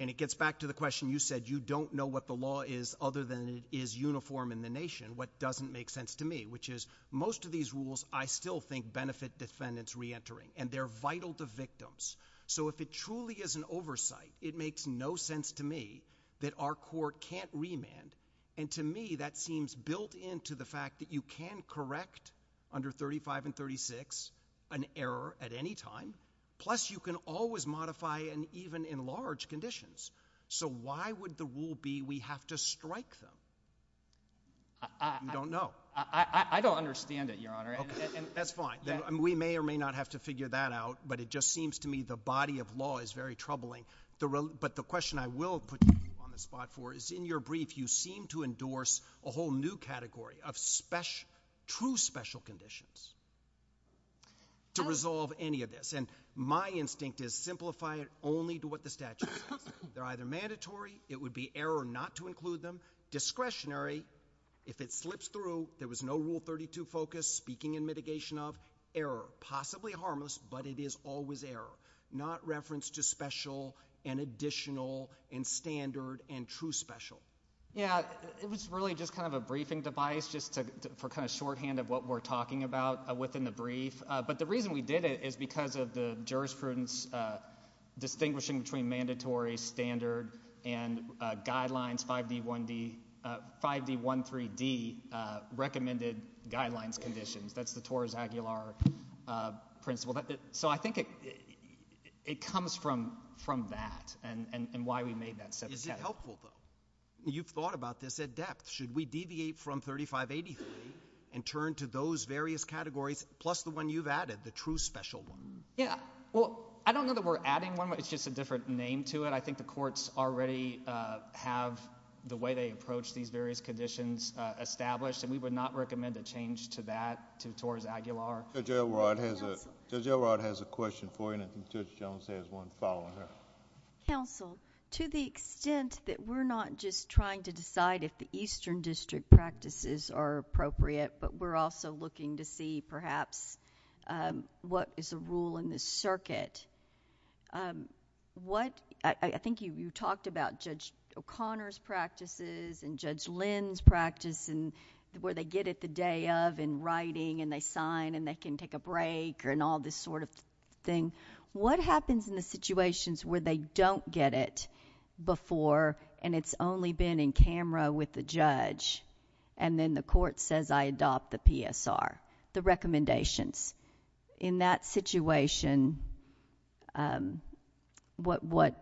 and it gets back to the question you said, you don't know what the law is other than it is uniform in the nation, what doesn't make sense to me, which is most of these rules I still think benefit defendants reentering, and they're vital to victims. So if it truly is an oversight, it makes no sense to me that our court can't remand. And to me, that seems built into the fact that you can correct under 35 and 36 an error at any time. Plus, you can always modify and even enlarge conditions. So why would the rule be we have to strike them? I don't know. I don't understand it, Your Honor. And that's fine. We may or may not have to figure that out, but it just seems to me the body of law is very troubling. But the question I will put you on the spot for is in your brief, you seem to endorse a whole new category of true special conditions to resolve any of this. And my instinct is simplify it only to what the statute says. They're either mandatory. It would be error not to include them. Discretionary, if it slips through, there was no Rule 32 focus speaking in mitigation of, error. Possibly harmless, but it is always error. Not reference to special and additional and standard and true special. Yeah, it was really just kind of a briefing device just for kind of shorthand of what we're talking about within the brief. But the reason we did it is because of the jurisprudence distinguishing between mandatory, standard, and guidelines 5D13D recommended guidelines conditions. That's the Torres Aguilar principle. So I think it comes from that and why we made that set of categories. Is it helpful, though? You've thought about this at depth. Should we deviate from 3583 and turn to those various categories plus the one you've added, the true special one? Yeah. Well, I don't know that we're adding one, but it's just a different name to it. I think the courts already have the way they approach these various conditions established, and we would not recommend a change to that, to Torres Aguilar. Judge Elrod has a question for you, and Judge Jones has one following her. Counsel, to the extent that we're not just trying to decide if the Eastern District practices are appropriate, but we're also looking to see perhaps what is a rule in this circuit, I think you talked about Judge O'Connor's practices and Judge Lynn's practice and where they get it the day of in writing and they sign and they can take a break and all this sort of thing. What happens in the situations where they don't get it before and it's only been in camera with the judge and then the court says, I adopt the PSR, the recommendations? In that situation, what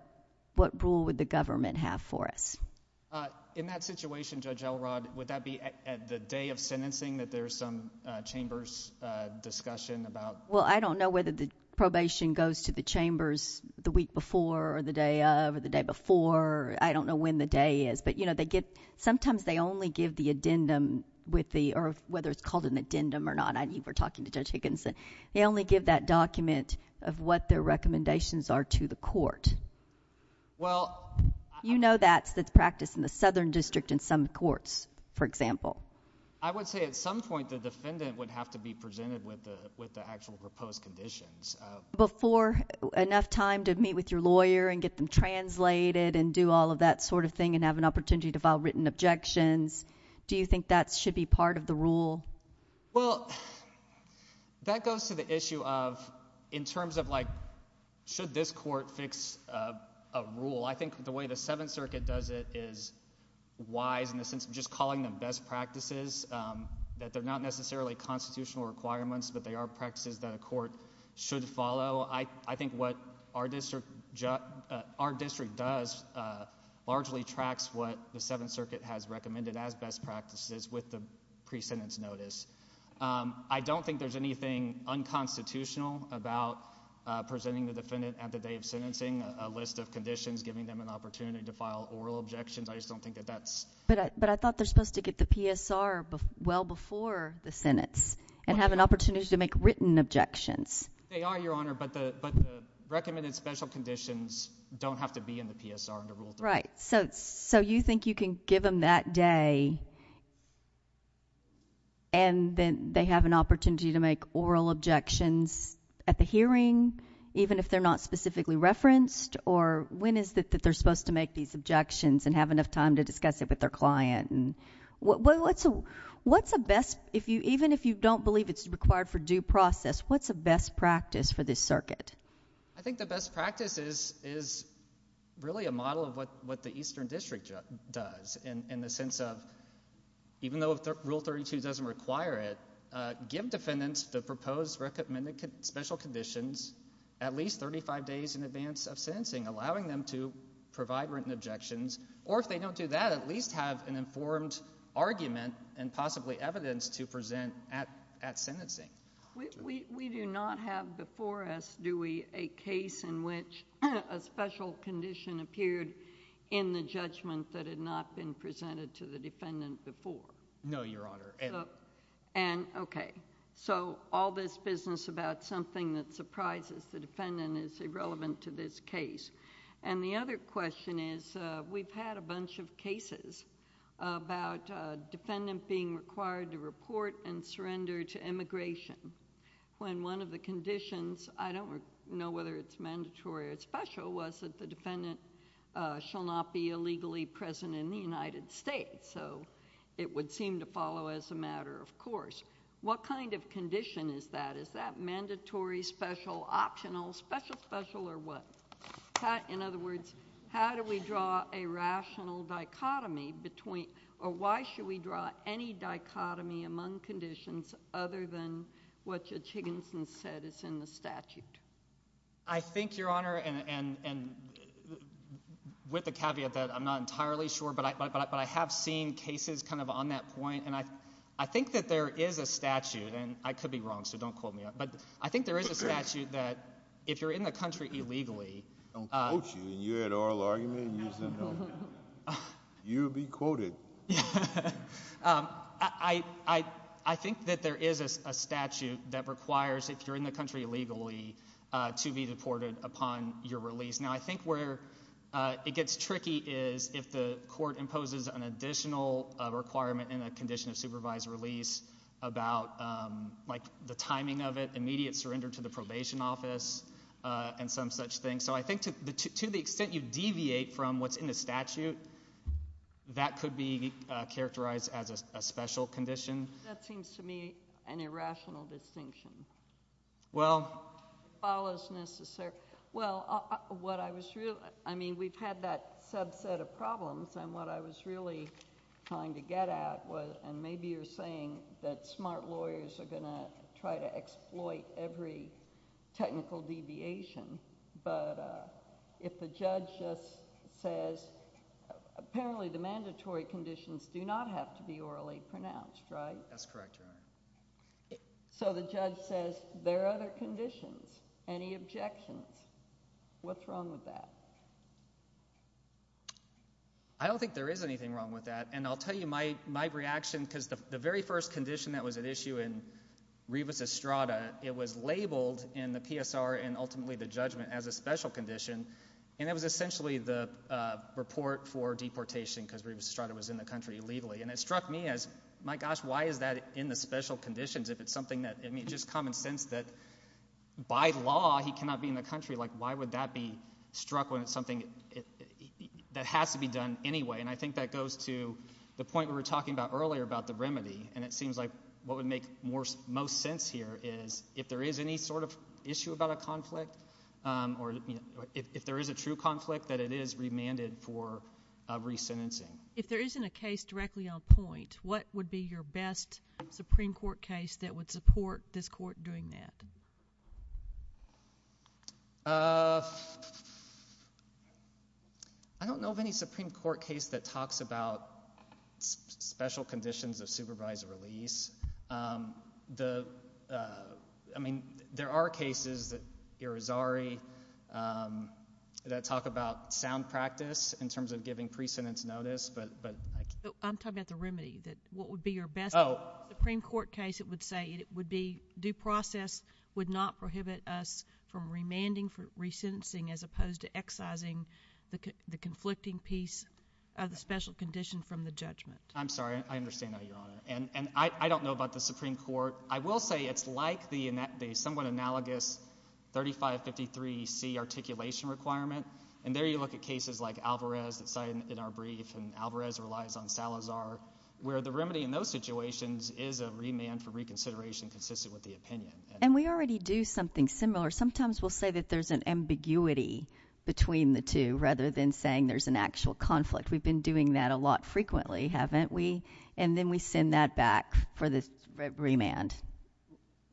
rule would the government have for us? In that situation, Judge Elrod, would that be at the day of sentencing that there's some chamber's discussion about? Well, I don't know whether the probation goes to the chambers the week before or the day of or the day before. I don't know when the day is. But, you know, sometimes they only give the addendum with the—or whether it's called an addendum or not. I know you were talking to Judge Higginson. They only give that document of what their recommendations are to the court. Well— You know that's the practice in the Southern District in some courts, for example. I would say at some point the defendant would have to be presented with the actual proposed conditions. But for enough time to meet with your lawyer and get them translated and do all of that sort of thing and have an opportunity to file written objections, do you think that should be part of the rule? Well, that goes to the issue of in terms of like should this court fix a rule? Well, I think the way the Seventh Circuit does it is wise in the sense of just calling them best practices, that they're not necessarily constitutional requirements, but they are practices that a court should follow. I think what our district does largely tracks what the Seventh Circuit has recommended as best practices with the pre-sentence notice. I don't think there's anything unconstitutional about presenting the defendant at the day of sentencing, presenting a list of conditions, giving them an opportunity to file oral objections. I just don't think that that's— But I thought they're supposed to get the PSR well before the sentence and have an opportunity to make written objections. They are, Your Honor, but the recommended special conditions don't have to be in the PSR under Rule 3. Right. So you think you can give them that day and then they have an opportunity to make oral objections at the hearing, even if they're not specifically referenced, or when is it that they're supposed to make these objections and have enough time to discuss it with their client? What's the best—even if you don't believe it's required for due process, what's the best practice for this circuit? I think the best practice is really a model of what the Eastern District does in the sense of even though Rule 32 doesn't require it, give defendants the proposed recommended special conditions at least 35 days in advance of sentencing, allowing them to provide written objections, or if they don't do that, at least have an informed argument and possibly evidence to present at sentencing. We do not have before us, do we, a case in which a special condition appeared in the judgment that had not been presented to the defendant before? No, Your Honor. Okay. So all this business about something that surprises the defendant is irrelevant to this case. The other question is, we've had a bunch of cases about a defendant being required to report and surrender to immigration when one of the conditions, I don't know whether it's mandatory or it's special, was that the defendant shall not be illegally present in the United States. So it would seem to follow as a matter of course. What kind of condition is that? Is that mandatory, special, optional, special, special, or what? In other words, how do we draw a rational dichotomy between, or why should we draw any dichotomy among conditions other than what Judge Higginson said is in the statute? I think, Your Honor, and with the caveat that I'm not entirely sure, but I have seen cases kind of on that point, and I think that there is a statute, and I could be wrong, so don't quote me on it, but I think there is a statute that if you're in the country illegally— Don't quote you, and you had oral argument, and you said no. You would be quoted. I think that there is a statute that requires, if you're in the country illegally, to be deported upon your release. Now I think where it gets tricky is if the court imposes an additional requirement in a condition of supervised release about the timing of it, immediate surrender to the probation office, and some such thing. So I think to the extent you deviate from what's in the statute, that could be characterized as a special condition. That seems to me an irrational distinction. Well— It follows necessarily— Well, what I was really—I mean, we've had that subset of problems, and what I was really trying to get at was, and maybe you're saying that smart lawyers are going to try to exploit every technical deviation, but if the judge just says, apparently the mandatory conditions do not have to be orally pronounced, right? That's correct, Your Honor. So the judge says there are other conditions, any objections? What's wrong with that? I don't think there is anything wrong with that, and I'll tell you my reaction, because the very first condition that was at issue in Rebus Estrada, it was labeled in the PSR and ultimately the judgment as a special condition, and it was essentially the report for deportation because Rebus Estrada was in the country illegally. And it struck me as, my gosh, why is that in the special conditions if it's something that— I mean, it's just common sense that by law he cannot be in the country. Like why would that be struck when it's something that has to be done anyway? And I think that goes to the point we were talking about earlier about the remedy, and it seems like what would make most sense here is if there is any sort of issue about a conflict or if there is a true conflict that it is remanded for resentencing. If there isn't a case directly on point, what would be your best Supreme Court case that would support this court doing that? I don't know of any Supreme Court case that talks about special conditions of supervised release. I mean, there are cases, Irizarry, that talk about sound practice in terms of giving pre-sentence notice. I'm talking about the remedy, what would be your best Supreme Court case that would say it would be due process would not prohibit us from remanding for resentencing as opposed to excising the conflicting piece of the special condition from the judgment? I'm sorry. I understand that, Your Honor. And I don't know about the Supreme Court. I will say it's like the somewhat analogous 3553C articulation requirement, and there you look at cases like Alvarez that's cited in our brief, and Alvarez relies on Salazar, where the remedy in those situations is a remand for reconsideration consistent with the opinion. And we already do something similar. Sometimes we'll say that there's an ambiguity between the two rather than saying there's an actual conflict. We've been doing that a lot frequently, haven't we? And then we send that back for the remand.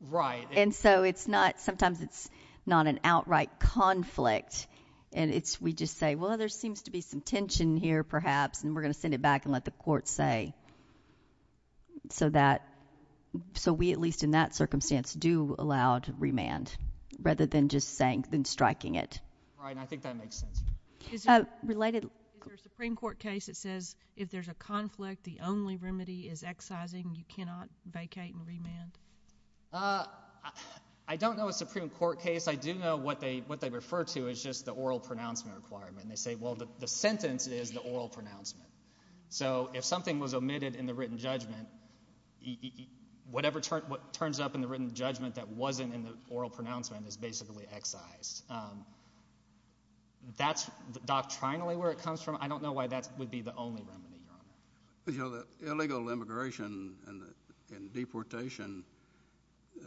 Right. And so it's not—sometimes it's not an outright conflict, and we just say, well, there seems to be some tension here perhaps, and we're going to send it back and let the court say. So we, at least in that circumstance, do allow to remand rather than just striking it. Right, and I think that makes sense. Is there a Supreme Court case that says if there's a conflict, the only remedy is excising, you cannot vacate and remand? I don't know a Supreme Court case. I do know what they refer to as just the oral pronouncement requirement. They say, well, the sentence is the oral pronouncement. So if something was omitted in the written judgment, whatever turns up in the written judgment that wasn't in the oral pronouncement is basically excised. That's doctrinally where it comes from. I don't know why that would be the only remedy. You know, the illegal immigration and deportation,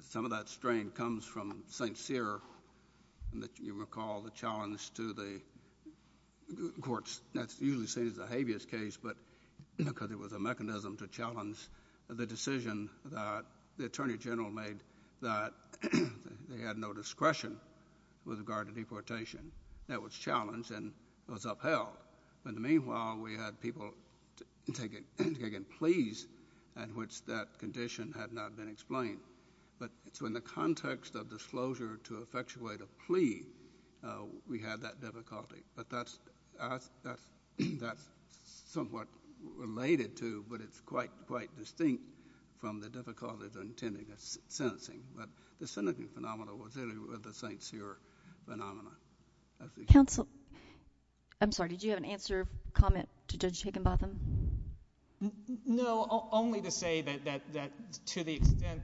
some of that strain comes from St. Cyr, and you recall the challenge to the courts. That's usually seen as a habeas case because it was a mechanism to challenge the decision that the Attorney General made that they had no discretion with regard to deportation. That was challenged and was upheld. But meanwhile, we had people taking pleas in which that condition had not been explained. So in the context of disclosure to effectuate a plea, we had that difficulty. But that's somewhat related to but it's quite distinct from the difficulties of intending a sentencing. But the sentencing phenomena was really the St. Cyr phenomena. Counsel, I'm sorry, did you have an answer or comment to Judge Higginbotham? No, only to say that to the extent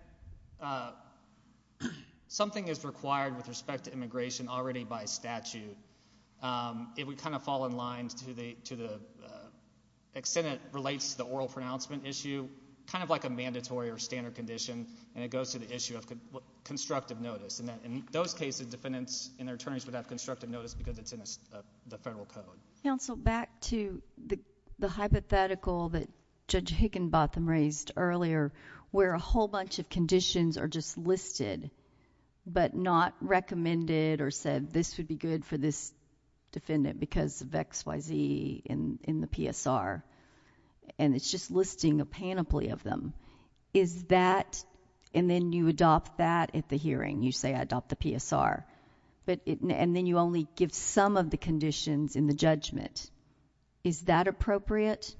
something is required with respect to immigration already by statute, it would kind of fall in line to the extent it relates to the oral pronouncement issue, kind of like a mandatory or standard condition, and it goes to the issue of constructive notice. In those cases, defendants and their attorneys would have constructive notice because it's in the federal code. Counsel, back to the hypothetical that Judge Higginbotham raised earlier, where a whole bunch of conditions are just listed but not recommended or said, this would be good for this defendant because of X, Y, Z in the PSR, and it's just listing a panoply of them. Is that, and then you adopt that at the hearing, you say, I adopt the PSR, and then you only give some of the conditions in the judgment. Is that appropriate?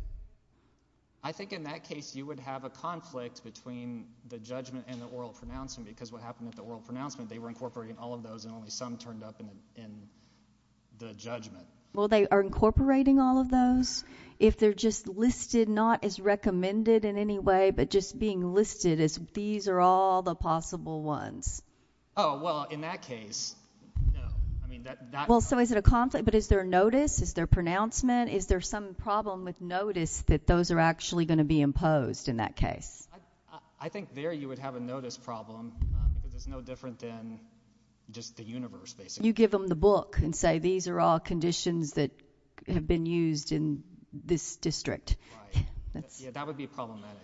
I think in that case you would have a conflict between the judgment and the oral pronouncement because what happened at the oral pronouncement, they were incorporating all of those and only some turned up in the judgment. Well, they are incorporating all of those if they're just listed not as recommended in any way, but just being listed as these are all the possible ones. Oh, well, in that case, no. Well, so is it a conflict? But is there a notice? Is there pronouncement? Is there some problem with notice that those are actually going to be imposed in that case? I think there you would have a notice problem because it's no different than just the universe, basically. You give them the book and say these are all conditions that have been used in this district. Right. Yeah, that would be problematic.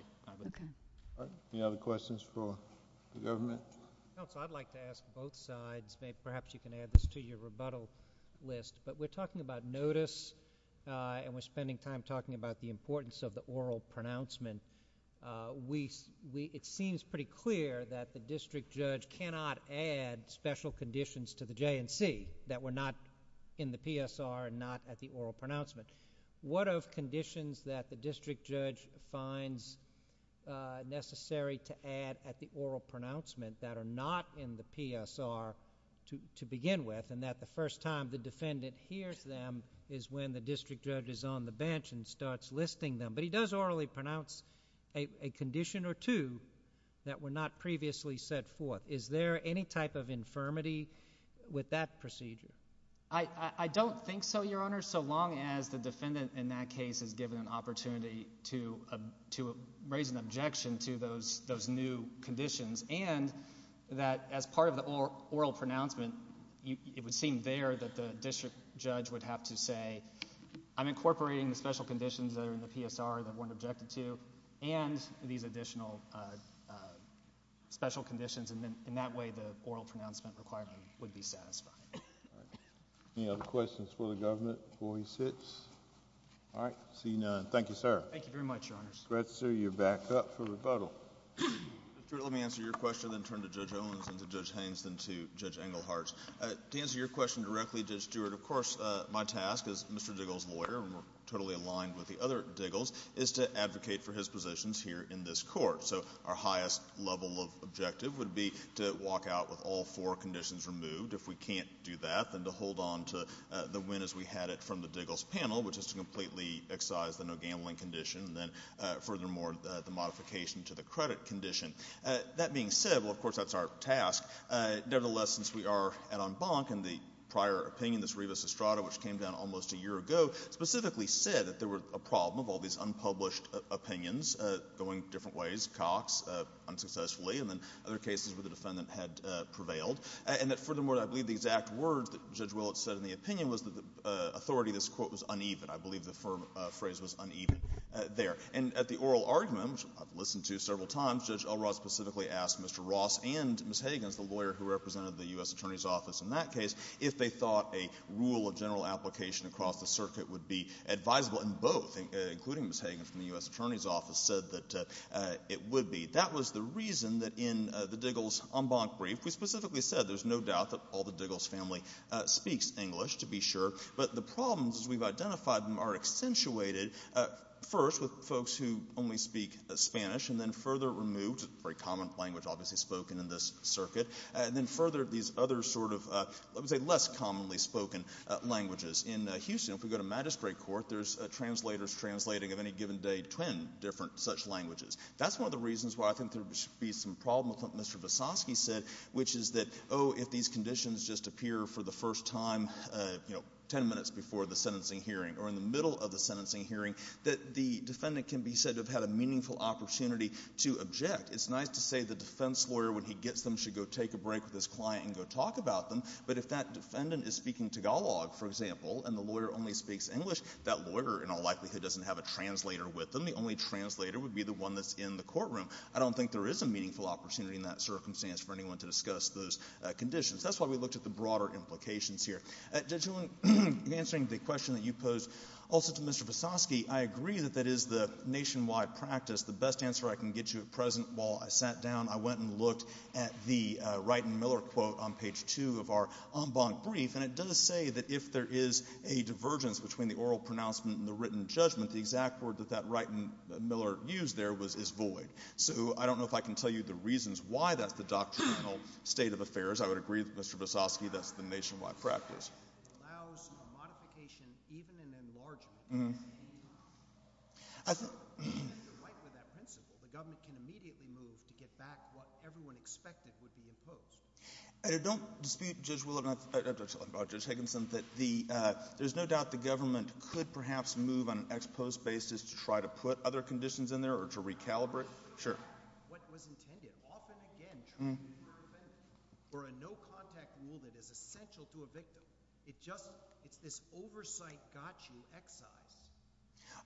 Any other questions for the government? Counsel, I'd like to ask both sides. Perhaps you can add this to your rebuttal list, but we're talking about notice and we're spending time talking about the importance of the oral pronouncement. It seems pretty clear that the district judge cannot add special conditions to the J&C that were not in the PSR and not at the oral pronouncement. What of conditions that the district judge finds necessary to add at the oral pronouncement that are not in the PSR to begin with and that the first time the defendant hears them is when the district judge is on the bench and starts listing them? But he does orally pronounce a condition or two that were not previously set forth. Is there any type of infirmity with that procedure? I don't think so, Your Honor, so long as the defendant, in that case, is given an opportunity to raise an objection to those new conditions and that as part of the oral pronouncement it would seem there that the district judge would have to say I'm incorporating the special conditions that are in the PSR that weren't objected to and these additional special conditions and in that way the oral pronouncement requirement would be satisfied. Any other questions for the government before he sits? All right, I see none. Thank you, sir. Thank you very much, Your Honors. Gretzky, you're back up for rebuttal. Mr. Stewart, let me answer your question and then turn to Judge Owens and to Judge Haines and then to Judge Englehart. To answer your question directly, Judge Stewart, of course, my task as Mr. Diggle's lawyer, and we're totally aligned with the other Diggles, is to advocate for his positions here in this court. So our highest level of objective would be to walk out with all four conditions removed. If we can't do that, then to hold on to the win as we had it from the Diggles panel, which is to completely excise the no gambling condition and then furthermore the modification to the credit condition. That being said, well, of course, that's our task. Nevertheless, since we are at en banc and the prior opinion, this revus estrada, which came down almost a year ago, specifically said that there was a problem of all these unpublished opinions going different ways, Cox unsuccessfully, and then other cases where the defendant had prevailed, and that furthermore I believe the exact words that Judge Willett said in the opinion was that the authority of this court was uneven. I believe the phrase was uneven there. And at the oral argument, which I've listened to several times, Judge Elrod specifically asked Mr. Ross and Ms. Hagins, the lawyer who represented the U.S. Attorney's Office in that case, if they thought a rule of general application across the circuit would be advisable and both, including Ms. Hagins from the U.S. Attorney's Office, said that it would be. That was the reason that in the Diggles en banc brief, we specifically said there's no doubt that all the Diggles family speaks English, to be sure, but the problems as we've identified them are accentuated first with folks who only speak Spanish and then further removed, a very common language obviously spoken in this circuit, and then further these other sort of, let me say, less commonly spoken languages. In Houston, if we go to magistrate court, there's translators translating of any given day ten different such languages. That's one of the reasons why I think there should be some problem with what Mr. Visosky said, which is that, oh, if these conditions just appear for the first time, you know, ten minutes before the sentencing hearing or in the middle of the sentencing hearing, that the defendant can be said to have had a meaningful opportunity to object. It's nice to say the defense lawyer, when he gets them, should go take a break with his client and go talk about them, but if that defendant is speaking Tagalog, for example, and the lawyer only speaks English, that lawyer, in all likelihood, doesn't have a translator with them. The only translator would be the one that's in the courtroom. I don't think there is a meaningful opportunity in that circumstance for anyone to discuss those conditions. That's why we looked at the broader implications here. Judging answering the question that you posed, also to Mr. Visosky, I agree that that is the nationwide practice. The best answer I can get you at present, while I sat down, I went and looked at the Wright and Miller quote on page two of our en banc brief, and it does say that if there is a divergence between the oral pronouncement and the written judgment, the exact word that that Wright and Miller used there is void. So I don't know if I can tell you the reasons why that's the doctrinal state of affairs. I would agree with Mr. Visosky that's the nationwide practice. It allows a modification, even an enlargement. If you're under Wright with that principle, the government can immediately move to get back what everyone expected would be imposed. Don't dispute Judge Higginson that there's no doubt the government could perhaps move on an ex post basis to try to put other conditions in there or to recalibrate. Sure.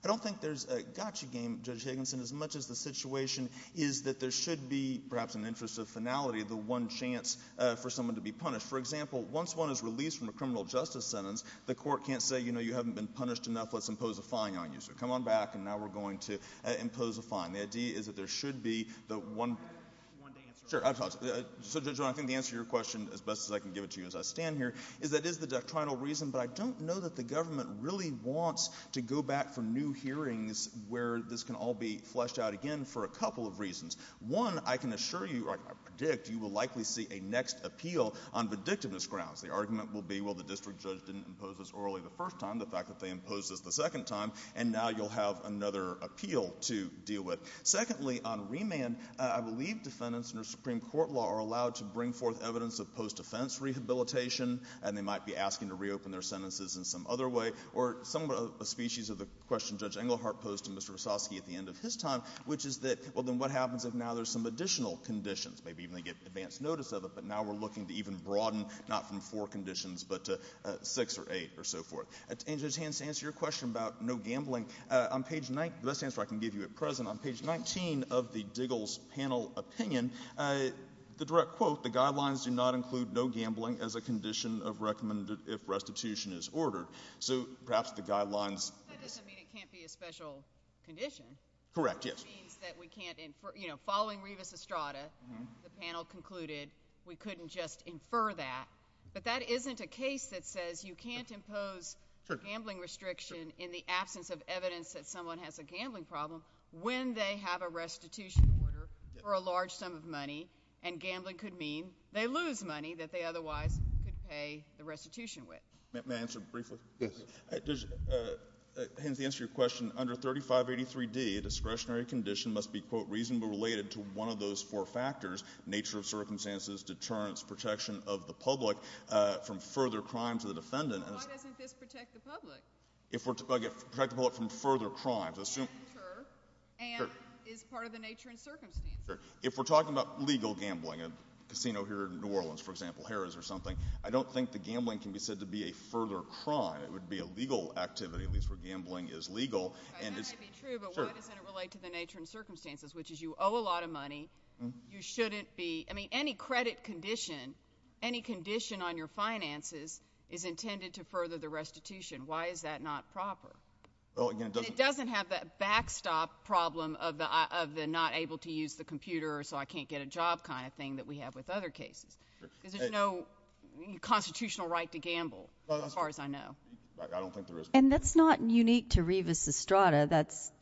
I don't think there's a gotcha game, Judge Higginson, as much as the situation is that there should be, perhaps in the interest of finality, the one chance for someone to be punished. For example, once one is released from a criminal justice sentence, the court can't say, you know, you haven't been punished enough, let's impose a fine on you. The idea is that there should be the one. Sure. So, Judge Rohn, I think the answer to your question, as best as I can give it to you as I stand here, is that is the doctrinal reason. But I don't know that the government really wants to go back for new hearings where this can all be fleshed out again for a couple of reasons. One, I can assure you or I predict you will likely see a next appeal on predictiveness grounds. The argument will be, well, the district judge didn't impose this orally the first time. The fact that they imposed this the second time. And now you'll have another appeal to deal with. Secondly, on remand, I believe defendants under Supreme Court law are allowed to bring forth evidence of post-defense rehabilitation, and they might be asking to reopen their sentences in some other way. Or somewhat a species of the question Judge Englehart posed to Mr. Vesosky at the end of his time, which is that, well, then what happens if now there's some additional conditions? Maybe even they get advance notice of it, but now we're looking to even broaden not from four conditions but to six or eight or so forth. And to answer your question about no gambling, the best answer I can give you at present, on page 19 of the Diggle's panel opinion, the direct quote, the guidelines do not include no gambling as a condition of recommended if restitution is ordered. So perhaps the guidelines— That doesn't mean it can't be a special condition. Correct, yes. Which means that we can't—you know, following Revis Estrada, the panel concluded we couldn't just infer that. But that isn't a case that says you can't impose gambling restriction in the absence of evidence that someone has a gambling problem when they have a restitution order for a large sum of money, and gambling could mean they lose money that they otherwise could pay the restitution with. May I answer briefly? Yes. Hence, to answer your question, under 3583D, a discretionary condition must be, quote, reasonably related to one of those four factors, nature of circumstances, deterrence, protection of the public from further crime to the defendant. Why doesn't this protect the public? Protect the public from further crimes. And is part of the nature and circumstances. If we're talking about legal gambling, a casino here in New Orleans, for example, Harrah's or something, I don't think the gambling can be said to be a further crime. It would be a legal activity, at least where gambling is legal. That might be true, but why doesn't it relate to the nature and circumstances, which is you owe a lot of money, you shouldn't be, I mean, any credit condition, any condition on your finances is intended to further the restitution. Why is that not proper? It doesn't have that backstop problem of the not able to use the computer so I can't get a job kind of thing that we have with other cases. Because there's no constitutional right to gamble, as far as I know. I don't think there is. And that's not unique to Rivas Estrada. That's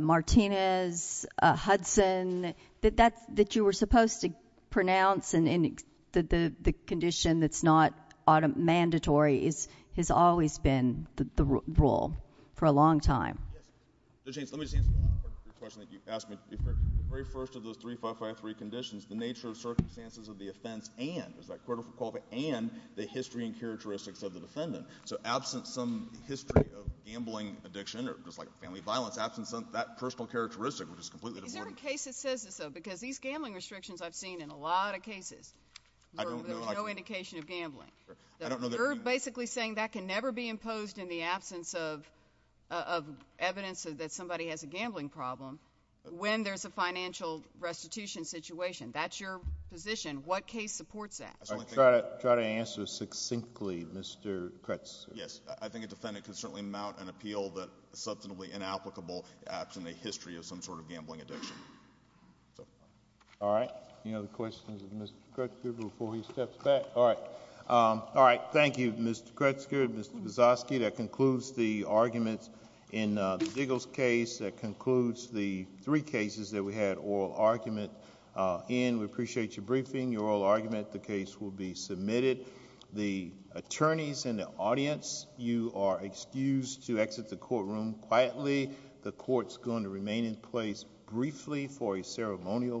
Martinez, Hudson, that you were supposed to pronounce and the condition that's not mandatory has always been the rule for a long time. Let me just answer the question that you asked me. The very first of those 3553 conditions, the nature and circumstances of the offense and the history and characteristics of the defendant. So absent some history of gambling addiction or just like family violence, absent that personal characteristic, which is completely different. Is there a case that says this, though, because these gambling restrictions I've seen in a lot of cases where there's no indication of gambling. You're basically saying that can never be imposed in the absence of evidence that somebody has a gambling problem when there's a financial restitution situation. That's your position. What case supports that? I'll try to answer succinctly, Mr. Kretzker. Yes. I think a defendant can certainly mount an appeal that is substantively inapplicable, absent a history of some sort of gambling addiction. All right. Any other questions of Mr. Kretzker before he steps back? All right. Thank you, Mr. Kretzker and Mr. Buzoski. That concludes the arguments in the Diggles case. That concludes the three cases that we had oral argument in. We appreciate your briefing, your oral argument. The case will be submitted. The attorneys in the audience, you are excused to exit the courtroom quietly. The court's going to remain in place briefly for a ceremonial moment,